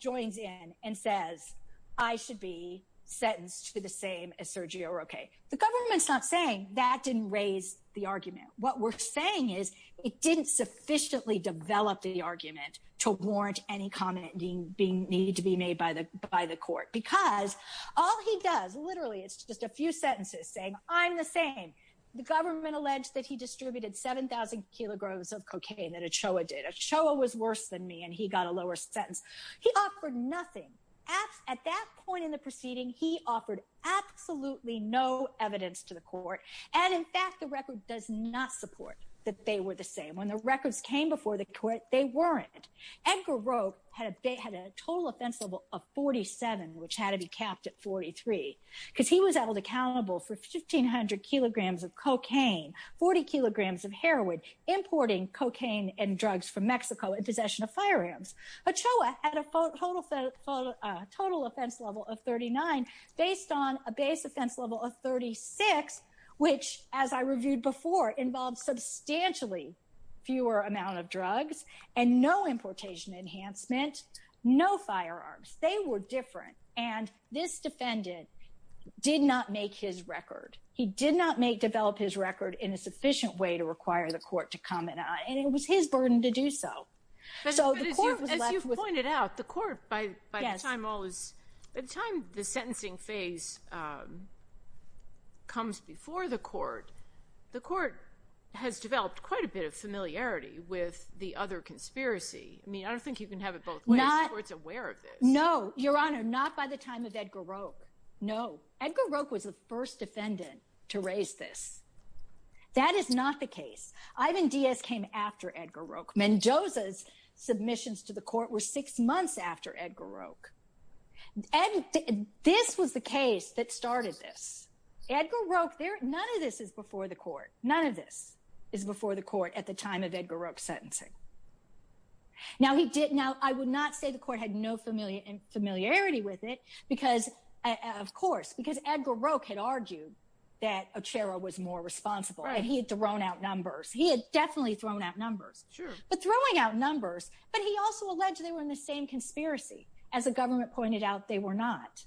joins in and says, I should be sentenced to the same as Sergio Roque. The government's not saying that didn't raise the argument. What we're saying is, it didn't sufficiently develop the argument to warrant any comment being needed to be made by the court. Because all he does, literally, it's just a few sentences saying, I'm the same. The government alleged that he distributed 7,000 kilograms of cocaine that Ochoa did. Ochoa was worse than me and he got a lower sentence. He offered nothing. At that point in the proceeding, he offered absolutely no evidence to the court. And in fact, the record does not support that they were the same. When the records came before the court, they weren't. Edgar Roque had a total offense level of 47, which had to be capped at 43, because he was held accountable for 1,500 kilograms of cocaine, 40 kilograms of heroin, importing cocaine and drugs from Mexico in possession of firearms. Ochoa had a total offense level of 39 based on a base offense level of 36, which as I reviewed before, involved substantially fewer amount of drugs and no importation enhancement, no firearms. They were different. And this defendant did not make his record. He did not develop his record in a sufficient way to require the court to comment on it. And it was his burden to do so. But as you've pointed out, the court, by the time the sentencing phase comes before the court, the court has developed quite a bit of familiarity with the other conspiracy. I mean, I don't think you can have it both ways. The court's aware of this. No, Your Honor, not by the time of Edgar Roque. No. Edgar Roque was the first defendant to raise this. That is not the case. Ivan Diaz came after Edgar Roque. Mendoza's submissions to the court were six months after Edgar Roque. And this was the case that started this. Edgar Roque, none of this is before the court. None of this is before the court at the time of Edgar Roque's sentencing. Now, I would not say the court had no familiarity with it because, of course, because Edgar Roque had argued that Ochoa was more responsible. He had thrown out numbers. He had definitely thrown out numbers. Sure. But throwing out numbers. But he also alleged they were in the same conspiracy. As the government pointed out, they were not.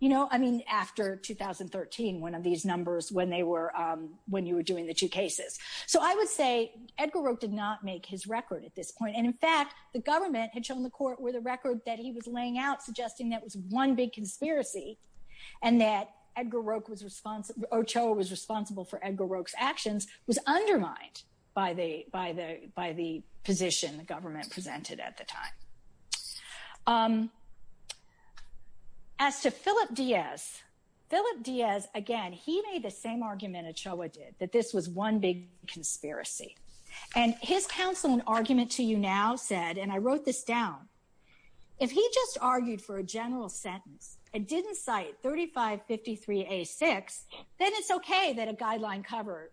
You know, I mean, after 2013, one of these numbers when they were, when you were doing the two cases. So I would say Edgar Roque did not make his record at this point. And in fact, the government had shown the court with a record that he was laying out, suggesting that was one big conspiracy and that Edgar Roque was responsible, Ochoa was responsible for Edgar Roque's actions, was undermined by the position the government presented at the time. As to Philip Diaz, Philip Diaz, again, he made the same argument Ochoa did, that this was one big conspiracy. And his counsel in argument to you now said, and I wrote this down, if he just argued for a general sentence and didn't cite 3553A6, then it's okay that a covered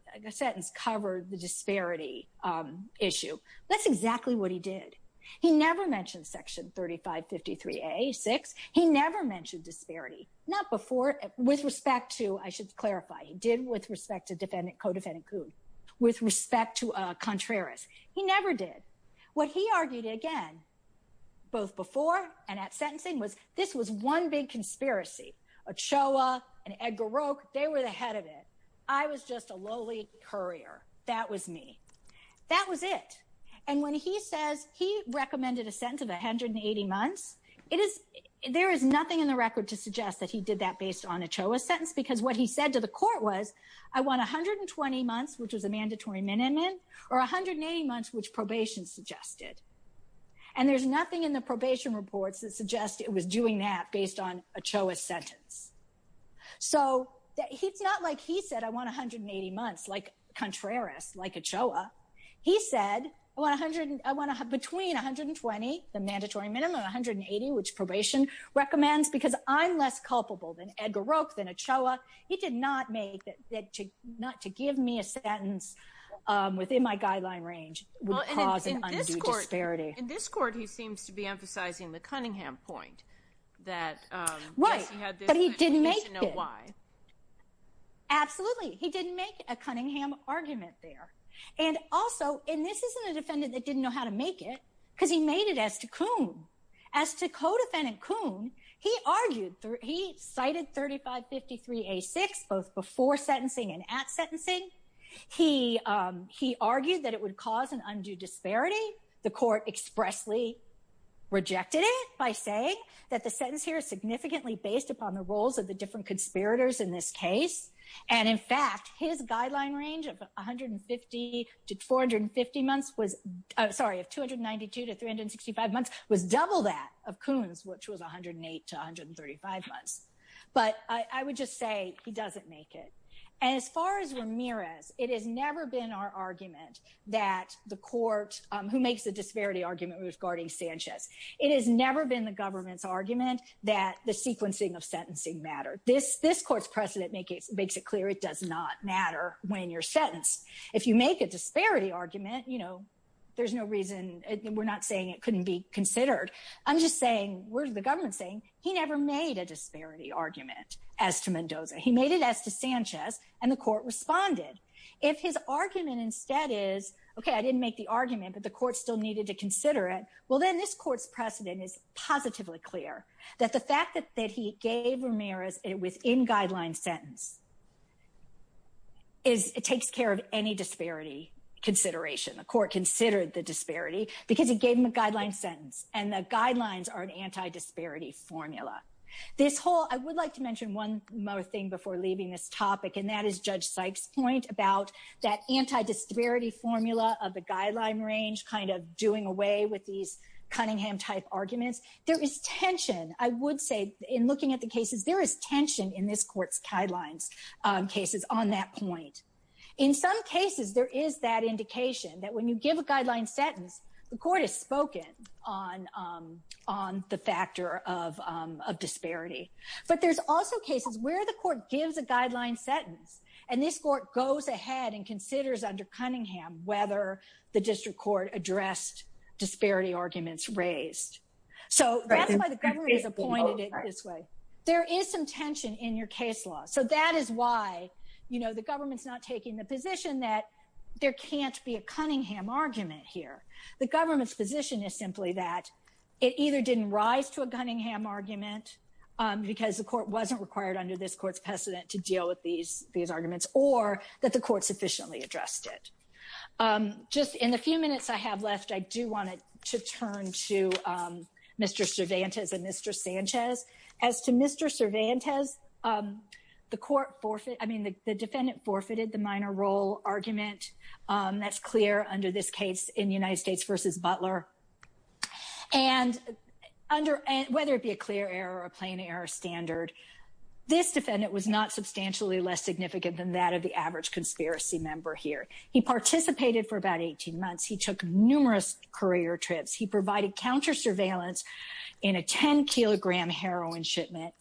the disparity issue. That's exactly what he did. He never mentioned section 3553A6. He never mentioned disparity. Not before, with respect to, I should clarify, he did with respect to defendant, co-defendant Coon, with respect to Contreras. He never did. What he argued again, both before and at sentencing was this was one big conspiracy. Ochoa and Edgar Roque, they were the head of it. I was just a lowly courier. That was me. That was it. And when he says he recommended a sentence of 180 months, there is nothing in the record to suggest that he did that based on Ochoa's sentence, because what he said to the court was, I want 120 months, which was a mandatory minimum, or 180 months, which probation suggested. And there's nothing in the probation reports that suggest it was doing that based on Ochoa's sentence. So it's not like he said, I want 180 months, like Contreras, like Ochoa. He said, I want between 120, the mandatory minimum, 180, which probation recommends, because I'm less culpable than Edgar Roque, than Ochoa. He did not make that to give me a sentence within my guideline range would cause an undue disparity. In this court, he seems to be emphasizing the Cunningham point that he had this. But he didn't make it. Absolutely. He didn't make a Cunningham argument there. And also, and this isn't a defendant that didn't know how to make it, because he made it as to Kuhn. As to co-defendant Kuhn, he argued, he cited 3553 A6, both before sentencing and at sentencing. He argued that it would cause an undue disparity. The court expressly rejected it by saying that the sentence here is significantly based upon the roles of the different conspirators in this case. And in fact, his guideline range of 150 to 450 months was, sorry, of 292 to 365 months was double that of Kuhn's, which was 108 to 135 months. But I would just say he doesn't make it. And as far as Ramirez, it has never been our argument that the court, who makes the disparity argument regarding Sanchez, it has never been the government's argument that the sequencing of sentencing mattered. This court's precedent makes it clear it does not matter when you're sentenced. If you make a disparity argument, there's no reason, we're not saying it couldn't be considered. I'm just saying, we're the government saying he never made a disparity argument as to Mendoza. He made it as to Sanchez, and the court responded. If his argument instead is, okay, I didn't make the argument, but the court still needed to consider it. Well, then this court's precedent is positively clear that the fact that he gave Ramirez a within-guideline sentence, it takes care of any disparity consideration. The court considered the disparity because he gave him a guideline sentence, and the guidelines are an anti-disparity formula. I would like to mention one more thing before leaving this topic, and that is Judge Sykes' point about that anti-disparity formula of the guideline range kind of doing away with these Cunningham-type arguments. There is tension, I would say, in looking at the cases, there is tension in this court's guidelines cases on that point. In some cases, there is that indication that when you give a guideline sentence, the court has spoken on the factor of disparity, but there's also cases where the court gives a guideline sentence, and this court goes ahead and considers under Cunningham whether the district court addressed disparity arguments raised. So that's why the government has appointed it this way. There is some tension in your case law, so that is why, you know, the government's not taking the position that there can't be a Cunningham argument here. The government's position is simply that it either didn't rise to a Cunningham argument because the court wasn't required under this court's precedent to deal with these arguments, or that the court sufficiently addressed it. Just in the few minutes I have left, I do want to turn to Mr. Cervantes and Mr. Sanchez. As to Mr. Cervantes, the defendant forfeited the minor role argument. That's clear under this case in United States v. Butler. And whether it be a clear error or a plain error standard, this defendant was not substantially less significant than that of the average conspiracy member here. He participated for about 18 months. He took numerous career trips. He provided counter-surveillance in a 10-kilogram heroin shipment.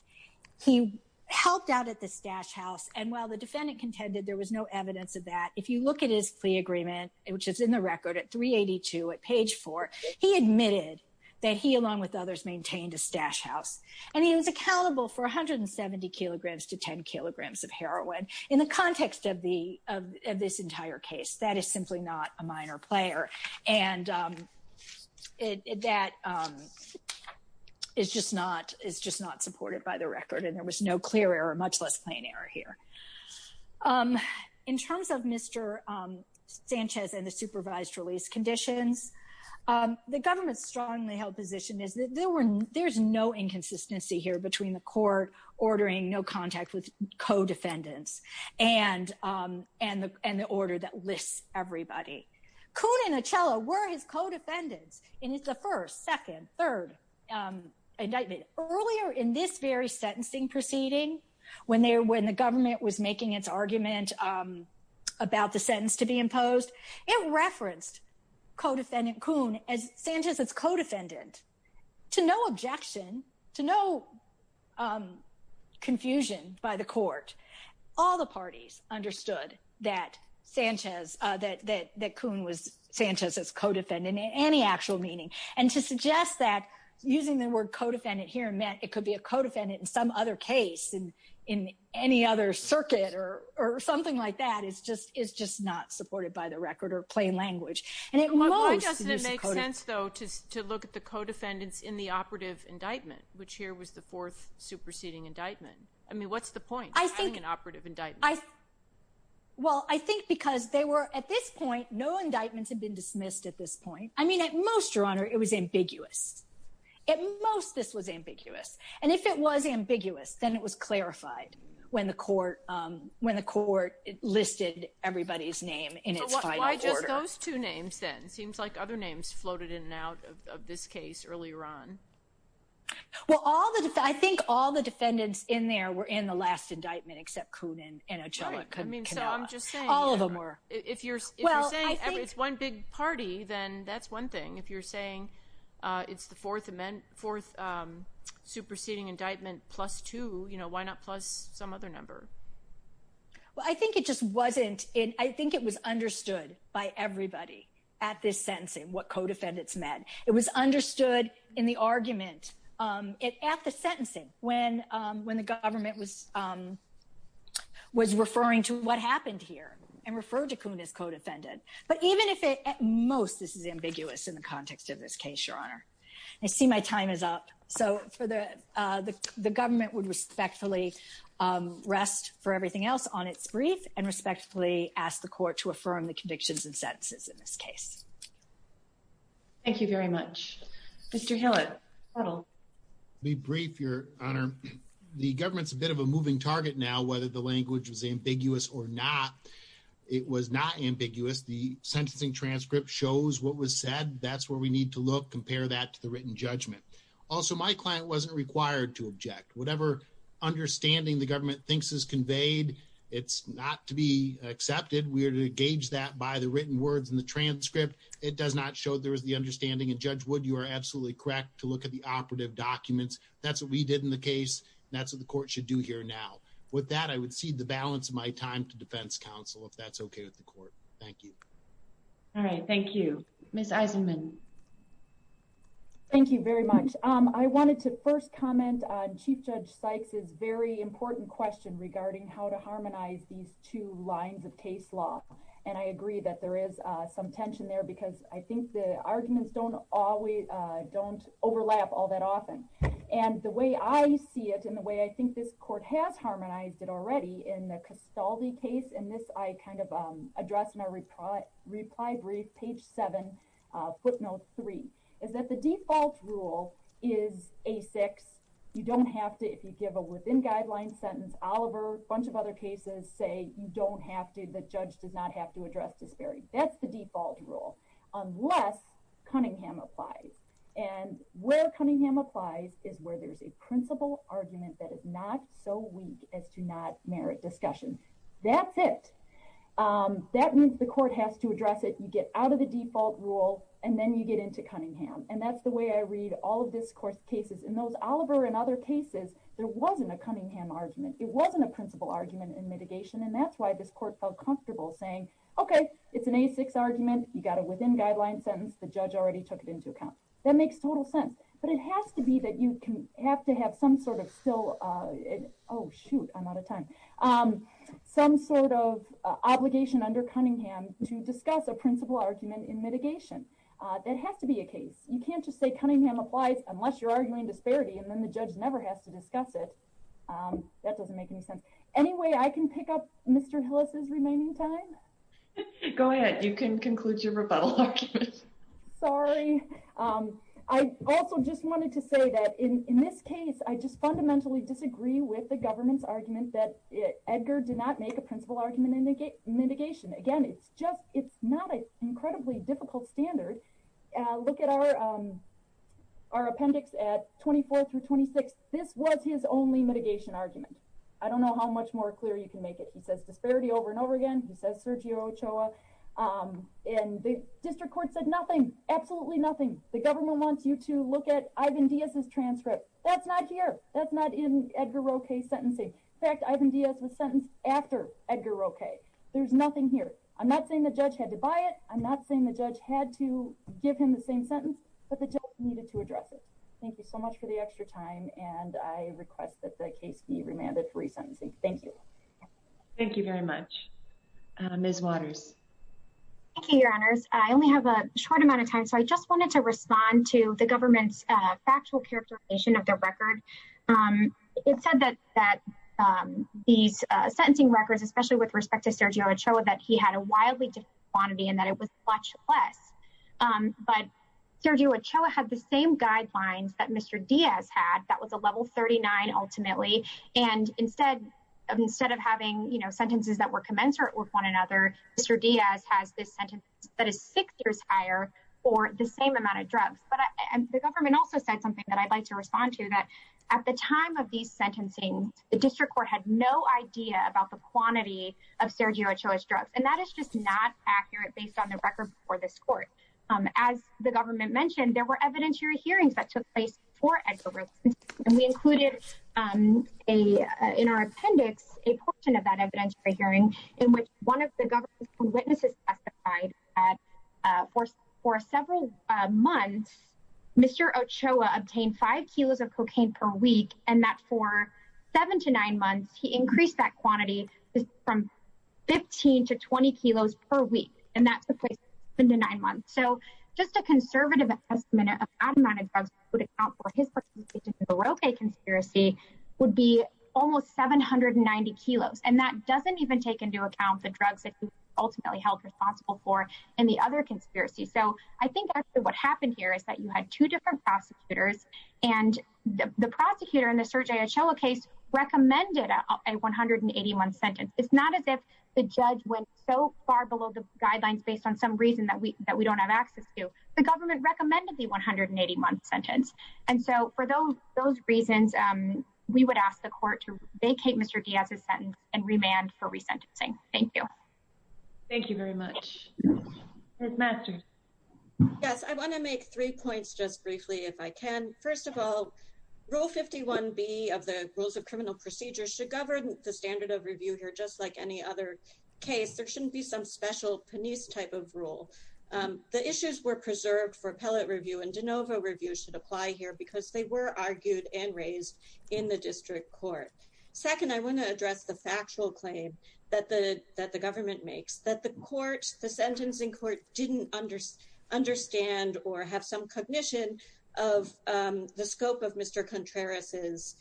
He helped out at the stash house, and while the defendant contended there was no evidence of that, if you look at his plea agreement, which is in the record at 382 at page 4, he admitted that he, along with others, maintained a stash house. And he was accountable for 170 kilograms to 10 kilograms of heroin. In the record, and there was no clear error, much less plain error here. In terms of Mr. Sanchez and the supervised release conditions, the government's strongly held position is that there's no inconsistency here between the court ordering no contact with co-defendants and the order that lists everybody. Coon and Achella were his co-defendants in the first, second, third indictment. Earlier in this very sentencing proceeding, when the government was making its argument about the sentence to be imposed, it referenced co-defendant Coon as Sanchez's co-defendant to no objection, to no confusion by the court. All the parties understood that Sanchez, that Coon was Sanchez's co-defendant in any actual meaning. And to suggest that, using the word co-defendant here meant it could be a co-defendant in some other case, in any other circuit, or something like that, is just not supported by the record or plain language. Why doesn't it make sense though to look at the co-defendants in the operative indictment, which here was the fourth superseding indictment? I mean, what's the point of having an operative indictment? Well, I think because they were, at this point, no indictments had been dismissed at this point. I mean, at most, Your Honor, it was ambiguous. At most, this was ambiguous. And if it was ambiguous, then it was clarified when the court listed everybody's name in its final order. Those two names, then, seems like other names floated in and out of this case earlier on. Well, I think all the defendants in there were in the last indictment except Coon and Adjani. I mean, so I'm just saying, if you're saying it's one big party, then that's one thing. If you're saying it's the fourth superseding indictment plus two, you know, why not plus some other number? Well, I think it just wasn't, I think it was understood by everybody at this sentencing what co-defendants meant. It was understood in the argument at the sentencing when the government was referring to what happened here and referred to Coon as co-defendant. But even if it, at most, this is ambiguous in the context of this case, Your Honor. I see my time is up. So for the, the government would respectfully rest for everything else on its brief and respectfully ask the court to affirm the convictions and sentences in this case. Thank you very much. Mr. Hillett. Be brief, Your Honor. The government's a bit of a moving target now, whether the language was ambiguous or not. It was not ambiguous. The sentencing transcript shows what was said. That's where we need to look, compare that to the written judgment. Also, my client wasn't required to object. Whatever understanding the government thinks is conveyed, it's not to be accepted. We are to gauge that by the written words in the transcript. It does not show there is the understanding and Judge Wood, you are absolutely correct to look at the operative documents. That's what we did in the case. That's what the court should do here now. With that, I would cede the balance of my time to defense counsel, if that's okay with the court. Thank you. All right. Thank you, Ms. Eisenman. Thank you very much. I wanted to first comment on Chief Judge Sykes' very important question regarding how to harmonize these two lines of case law. And I agree that there is some tension there because I think the arguments don't always, don't overlap all that often. And the way I see it and the way I think this court has harmonized it already in the Castaldi case, and this I kind of addressed in our reply brief, page seven, footnote three, is that the default rule is A6. You don't have to, if you give a within guidelines sentence, Oliver, a bunch of other cases say you don't have to, the judge does not have to address disparity. That's the default rule, unless Cunningham applies. And where Cunningham applies is where there's a principle argument that is not so weak as to not merit discussion. That's it. That means the court has to address it. You get out of the default rule and then you get into Cunningham. And that's the way I read all of this court cases. In those Oliver and other cases, there wasn't a Cunningham argument. It wasn't a principle argument in mitigation. And that's why this court felt comfortable saying, okay, it's an A6 argument. You got a within guidelines sentence. The judge already took it into account. That makes total sense. But it has to be that you can have to have some sort of still, oh shoot, I'm out of time. Some sort of obligation under Cunningham to discuss a principle argument in mitigation. That has to be a case. You can't just say Cunningham applies unless you're arguing disparity and then the judge never has to discuss it. That doesn't make any sense. Anyway, I can pick up Mr. Hillis' remaining time. Go ahead. You can conclude your rebuttal argument. Sorry. I also just wanted to say that in this case, I just fundamentally disagree with the government's argument that Edgar did not make a principle argument in mitigation. Again, it's just, it's not an incredibly difficult standard. Look at our appendix at 24 through 26. This was his only mitigation argument. I don't know how much more clear you can make it. He says disparity over and over again. He says Sergio Ochoa. And the district court said nothing, absolutely nothing. The government wants you to look at Ivan Diaz's transcript. That's not here. That's not in Edgar Roque's sentencing. In fact, Ivan Diaz was sentenced after Edgar Roque. There's nothing here. I'm not saying the judge had to buy it. I'm not saying the judge had to give him the same sentence, but the judge needed to address it. Thank you so much for the extra time. And I request that the case be remanded for resentencing. Thank you. Thank you very much. Ms. Waters. Thank you, your honors. I only have a short amount of time, so I just wanted to respond to the government's factual characterization of their record. It said that these sentencing records, especially with respect to Sergio Ochoa, that he had a wildly different quantity and that it was much less. But Sergio Ochoa had the same guidelines that Mr. Diaz had. That was a level 39 ultimately. And instead of having sentences that were commensurate with one another, Mr. Diaz has this sentence that is six years higher for the same amount of drugs. But the government also said something that I'd like to respond to, that at the time of these sentencing, the district court had no idea about the quantity of Sergio Ochoa's drugs. And that is just not accurate based on the record for this court. As the government mentioned, there were evidentiary hearings that took place for Edgar Roque. And we included in our appendix a portion of that witnesses testified that for several months, Mr. Ochoa obtained five kilos of cocaine per week. And that for seven to nine months, he increased that quantity from 15 to 20 kilos per week. And that's the place in the nine months. So just a conservative estimate of the amount of drugs would account for his participation in the Roque conspiracy would be almost 790 kilos. And that ultimately held responsible for in the other conspiracy. So I think actually what happened here is that you had two different prosecutors and the prosecutor in the Sergio Ochoa case recommended a 181 sentence. It's not as if the judge went so far below the guidelines based on some reason that we don't have access to. The government recommended the 181 sentence. And so for those reasons, we would ask the court to vacate Mr. Diaz's sentence and remand for resentencing. Thank you. Thank you very much. Yes. I want to make three points just briefly, if I can. First of all, rule 51 B of the rules of criminal procedures should govern the standard of review here, just like any other case, there shouldn't be some special Penice type of rule. The issues were preserved for appellate review and de novo review should apply here because they argued and raised in the district court. Second, I want to address the factual claim that the government makes that the court, the sentencing court didn't understand or have some cognition of the scope of Mr. Contreras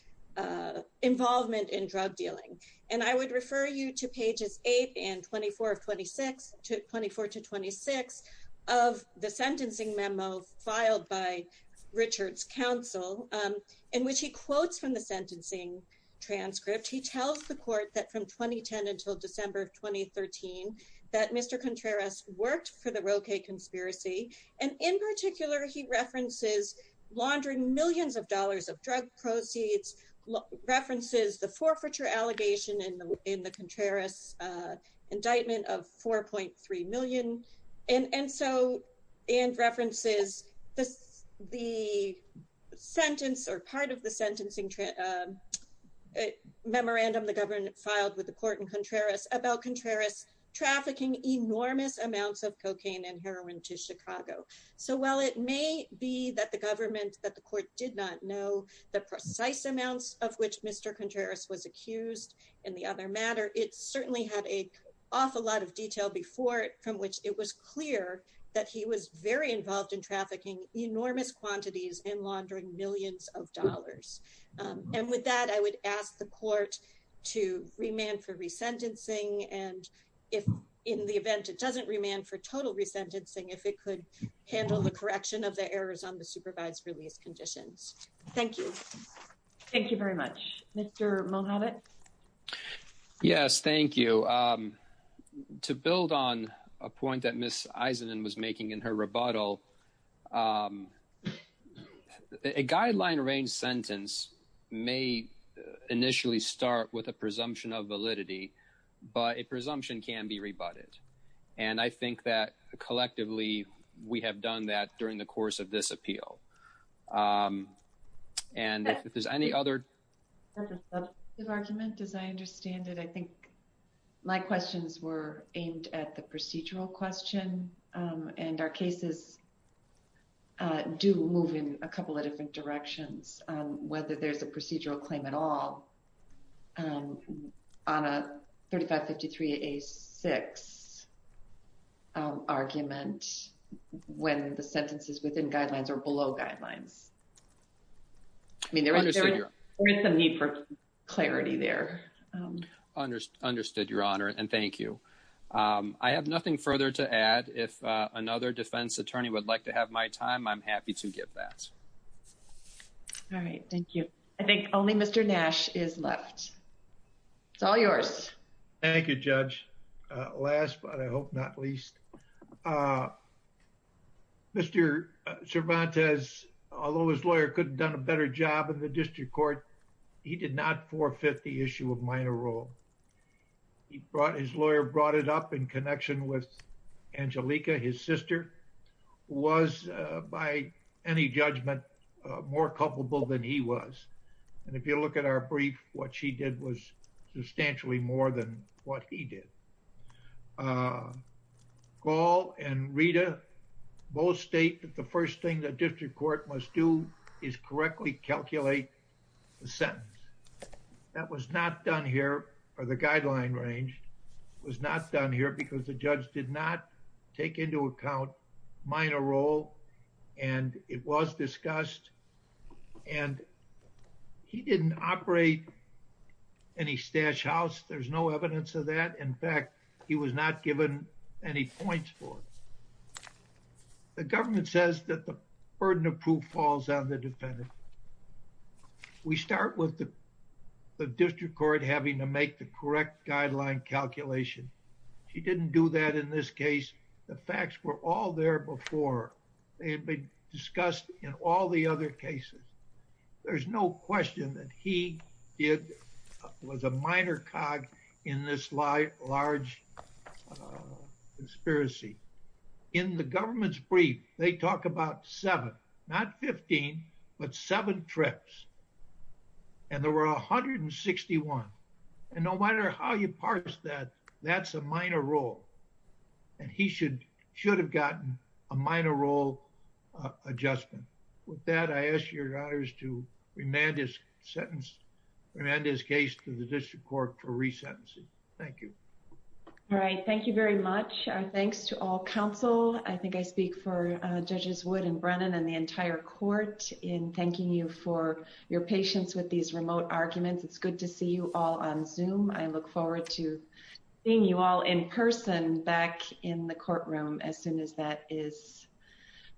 involvement in drug dealing. And I would refer you to pages eight and 24 of 26 to 24 to 26 of the sentencing memo filed by Richard's counsel in which he quotes from the sentencing transcript. He tells the court that from 2010 until December of 2013, that Mr. Contreras worked for the Roque conspiracy. And in particular, he references laundering millions of dollars of drug proceeds, references the forfeiture allegation in the Contreras indictment of 4.3 million. And so, and references the sentence or part of the sentencing memorandum the government filed with the court in Contreras about Contreras trafficking enormous amounts of cocaine and heroin to Chicago. So while it may be that the government that the court did not know the precise amounts of which Mr. Contreras was accused in the other matter, it certainly had a awful lot of detail before it, from which it was clear that he was very involved in trafficking enormous quantities and laundering millions of dollars. And with that, I would ask the court to remand for resentencing. And if in the event, it doesn't remand for total resentencing, if it could handle the correction of the errors on the supervised release conditions. Thank you. Thank you very much, Mr. Mohamed. Yes, thank you. To build on a point that Ms. Eisenin was making in her rebuttal, a guideline range sentence may initially start with a presumption of validity, but a presumption can be rebutted. And I think that collectively, we have done that during the trial. And if there's any other argument, as I understand it, I think my questions were aimed at the procedural question. And our cases do move in a couple of different directions, whether there's a procedural claim at all on a 3553 A six argument, when the sentences within guidelines are below guidelines. I mean, there is a need for clarity there. Understood, Your Honor, and thank you. I have nothing further to add. If another defense attorney would like to have my time, I'm happy to give that. All right. Thank you. I think only Mr. Nash is left. It's all yours. Thank you, Judge. Last but I hope not least. Mr. Cervantes, although his lawyer could have done a better job in the district court, he did not forfeit the issue of minor role. He brought his lawyer brought it up in connection with Angelica, his sister, was by any judgment, more culpable than he was. And if you look at our brief, what she did was substantially more than what he did. Gall and Rita both state that the first thing the district court must do is correctly calculate the sentence. That was not done here for the guideline range was not done here because the judge did not take into account minor role and it was discussed and he didn't operate any stash house. There's no evidence of that. In fact, he was not given any points for it. The government says that the burden of proof falls on the defendant. We start with the district court having to make the correct guideline calculation. She didn't do that in this case. The facts were all there before. They had been discussed in all the other cases. There's no question that he did, was a minor cog in this large conspiracy. In the government's brief, they talk about seven, not 15, but seven trips. And there were 161. And no matter how you parse that, that's a minor role. And he should have gotten a minor role adjustment. With that, I ask your honors to remand his sentence, remand his case to the district court for resentencing. Thank you. All right. Thank you very much. Thanks to all counsel. I think I speak for judges Wood and Brennan and the entire court in thanking you for your patience with these remote arguments. It's forward to seeing you all in person back in the courtroom as soon as that is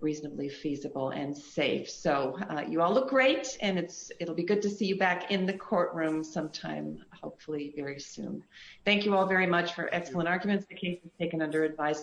reasonably feasible and safe. So you all look great and it's, it'll be good to see you back in the courtroom sometime, hopefully very soon. Thank you all very much for excellent arguments. The case is taken under advice.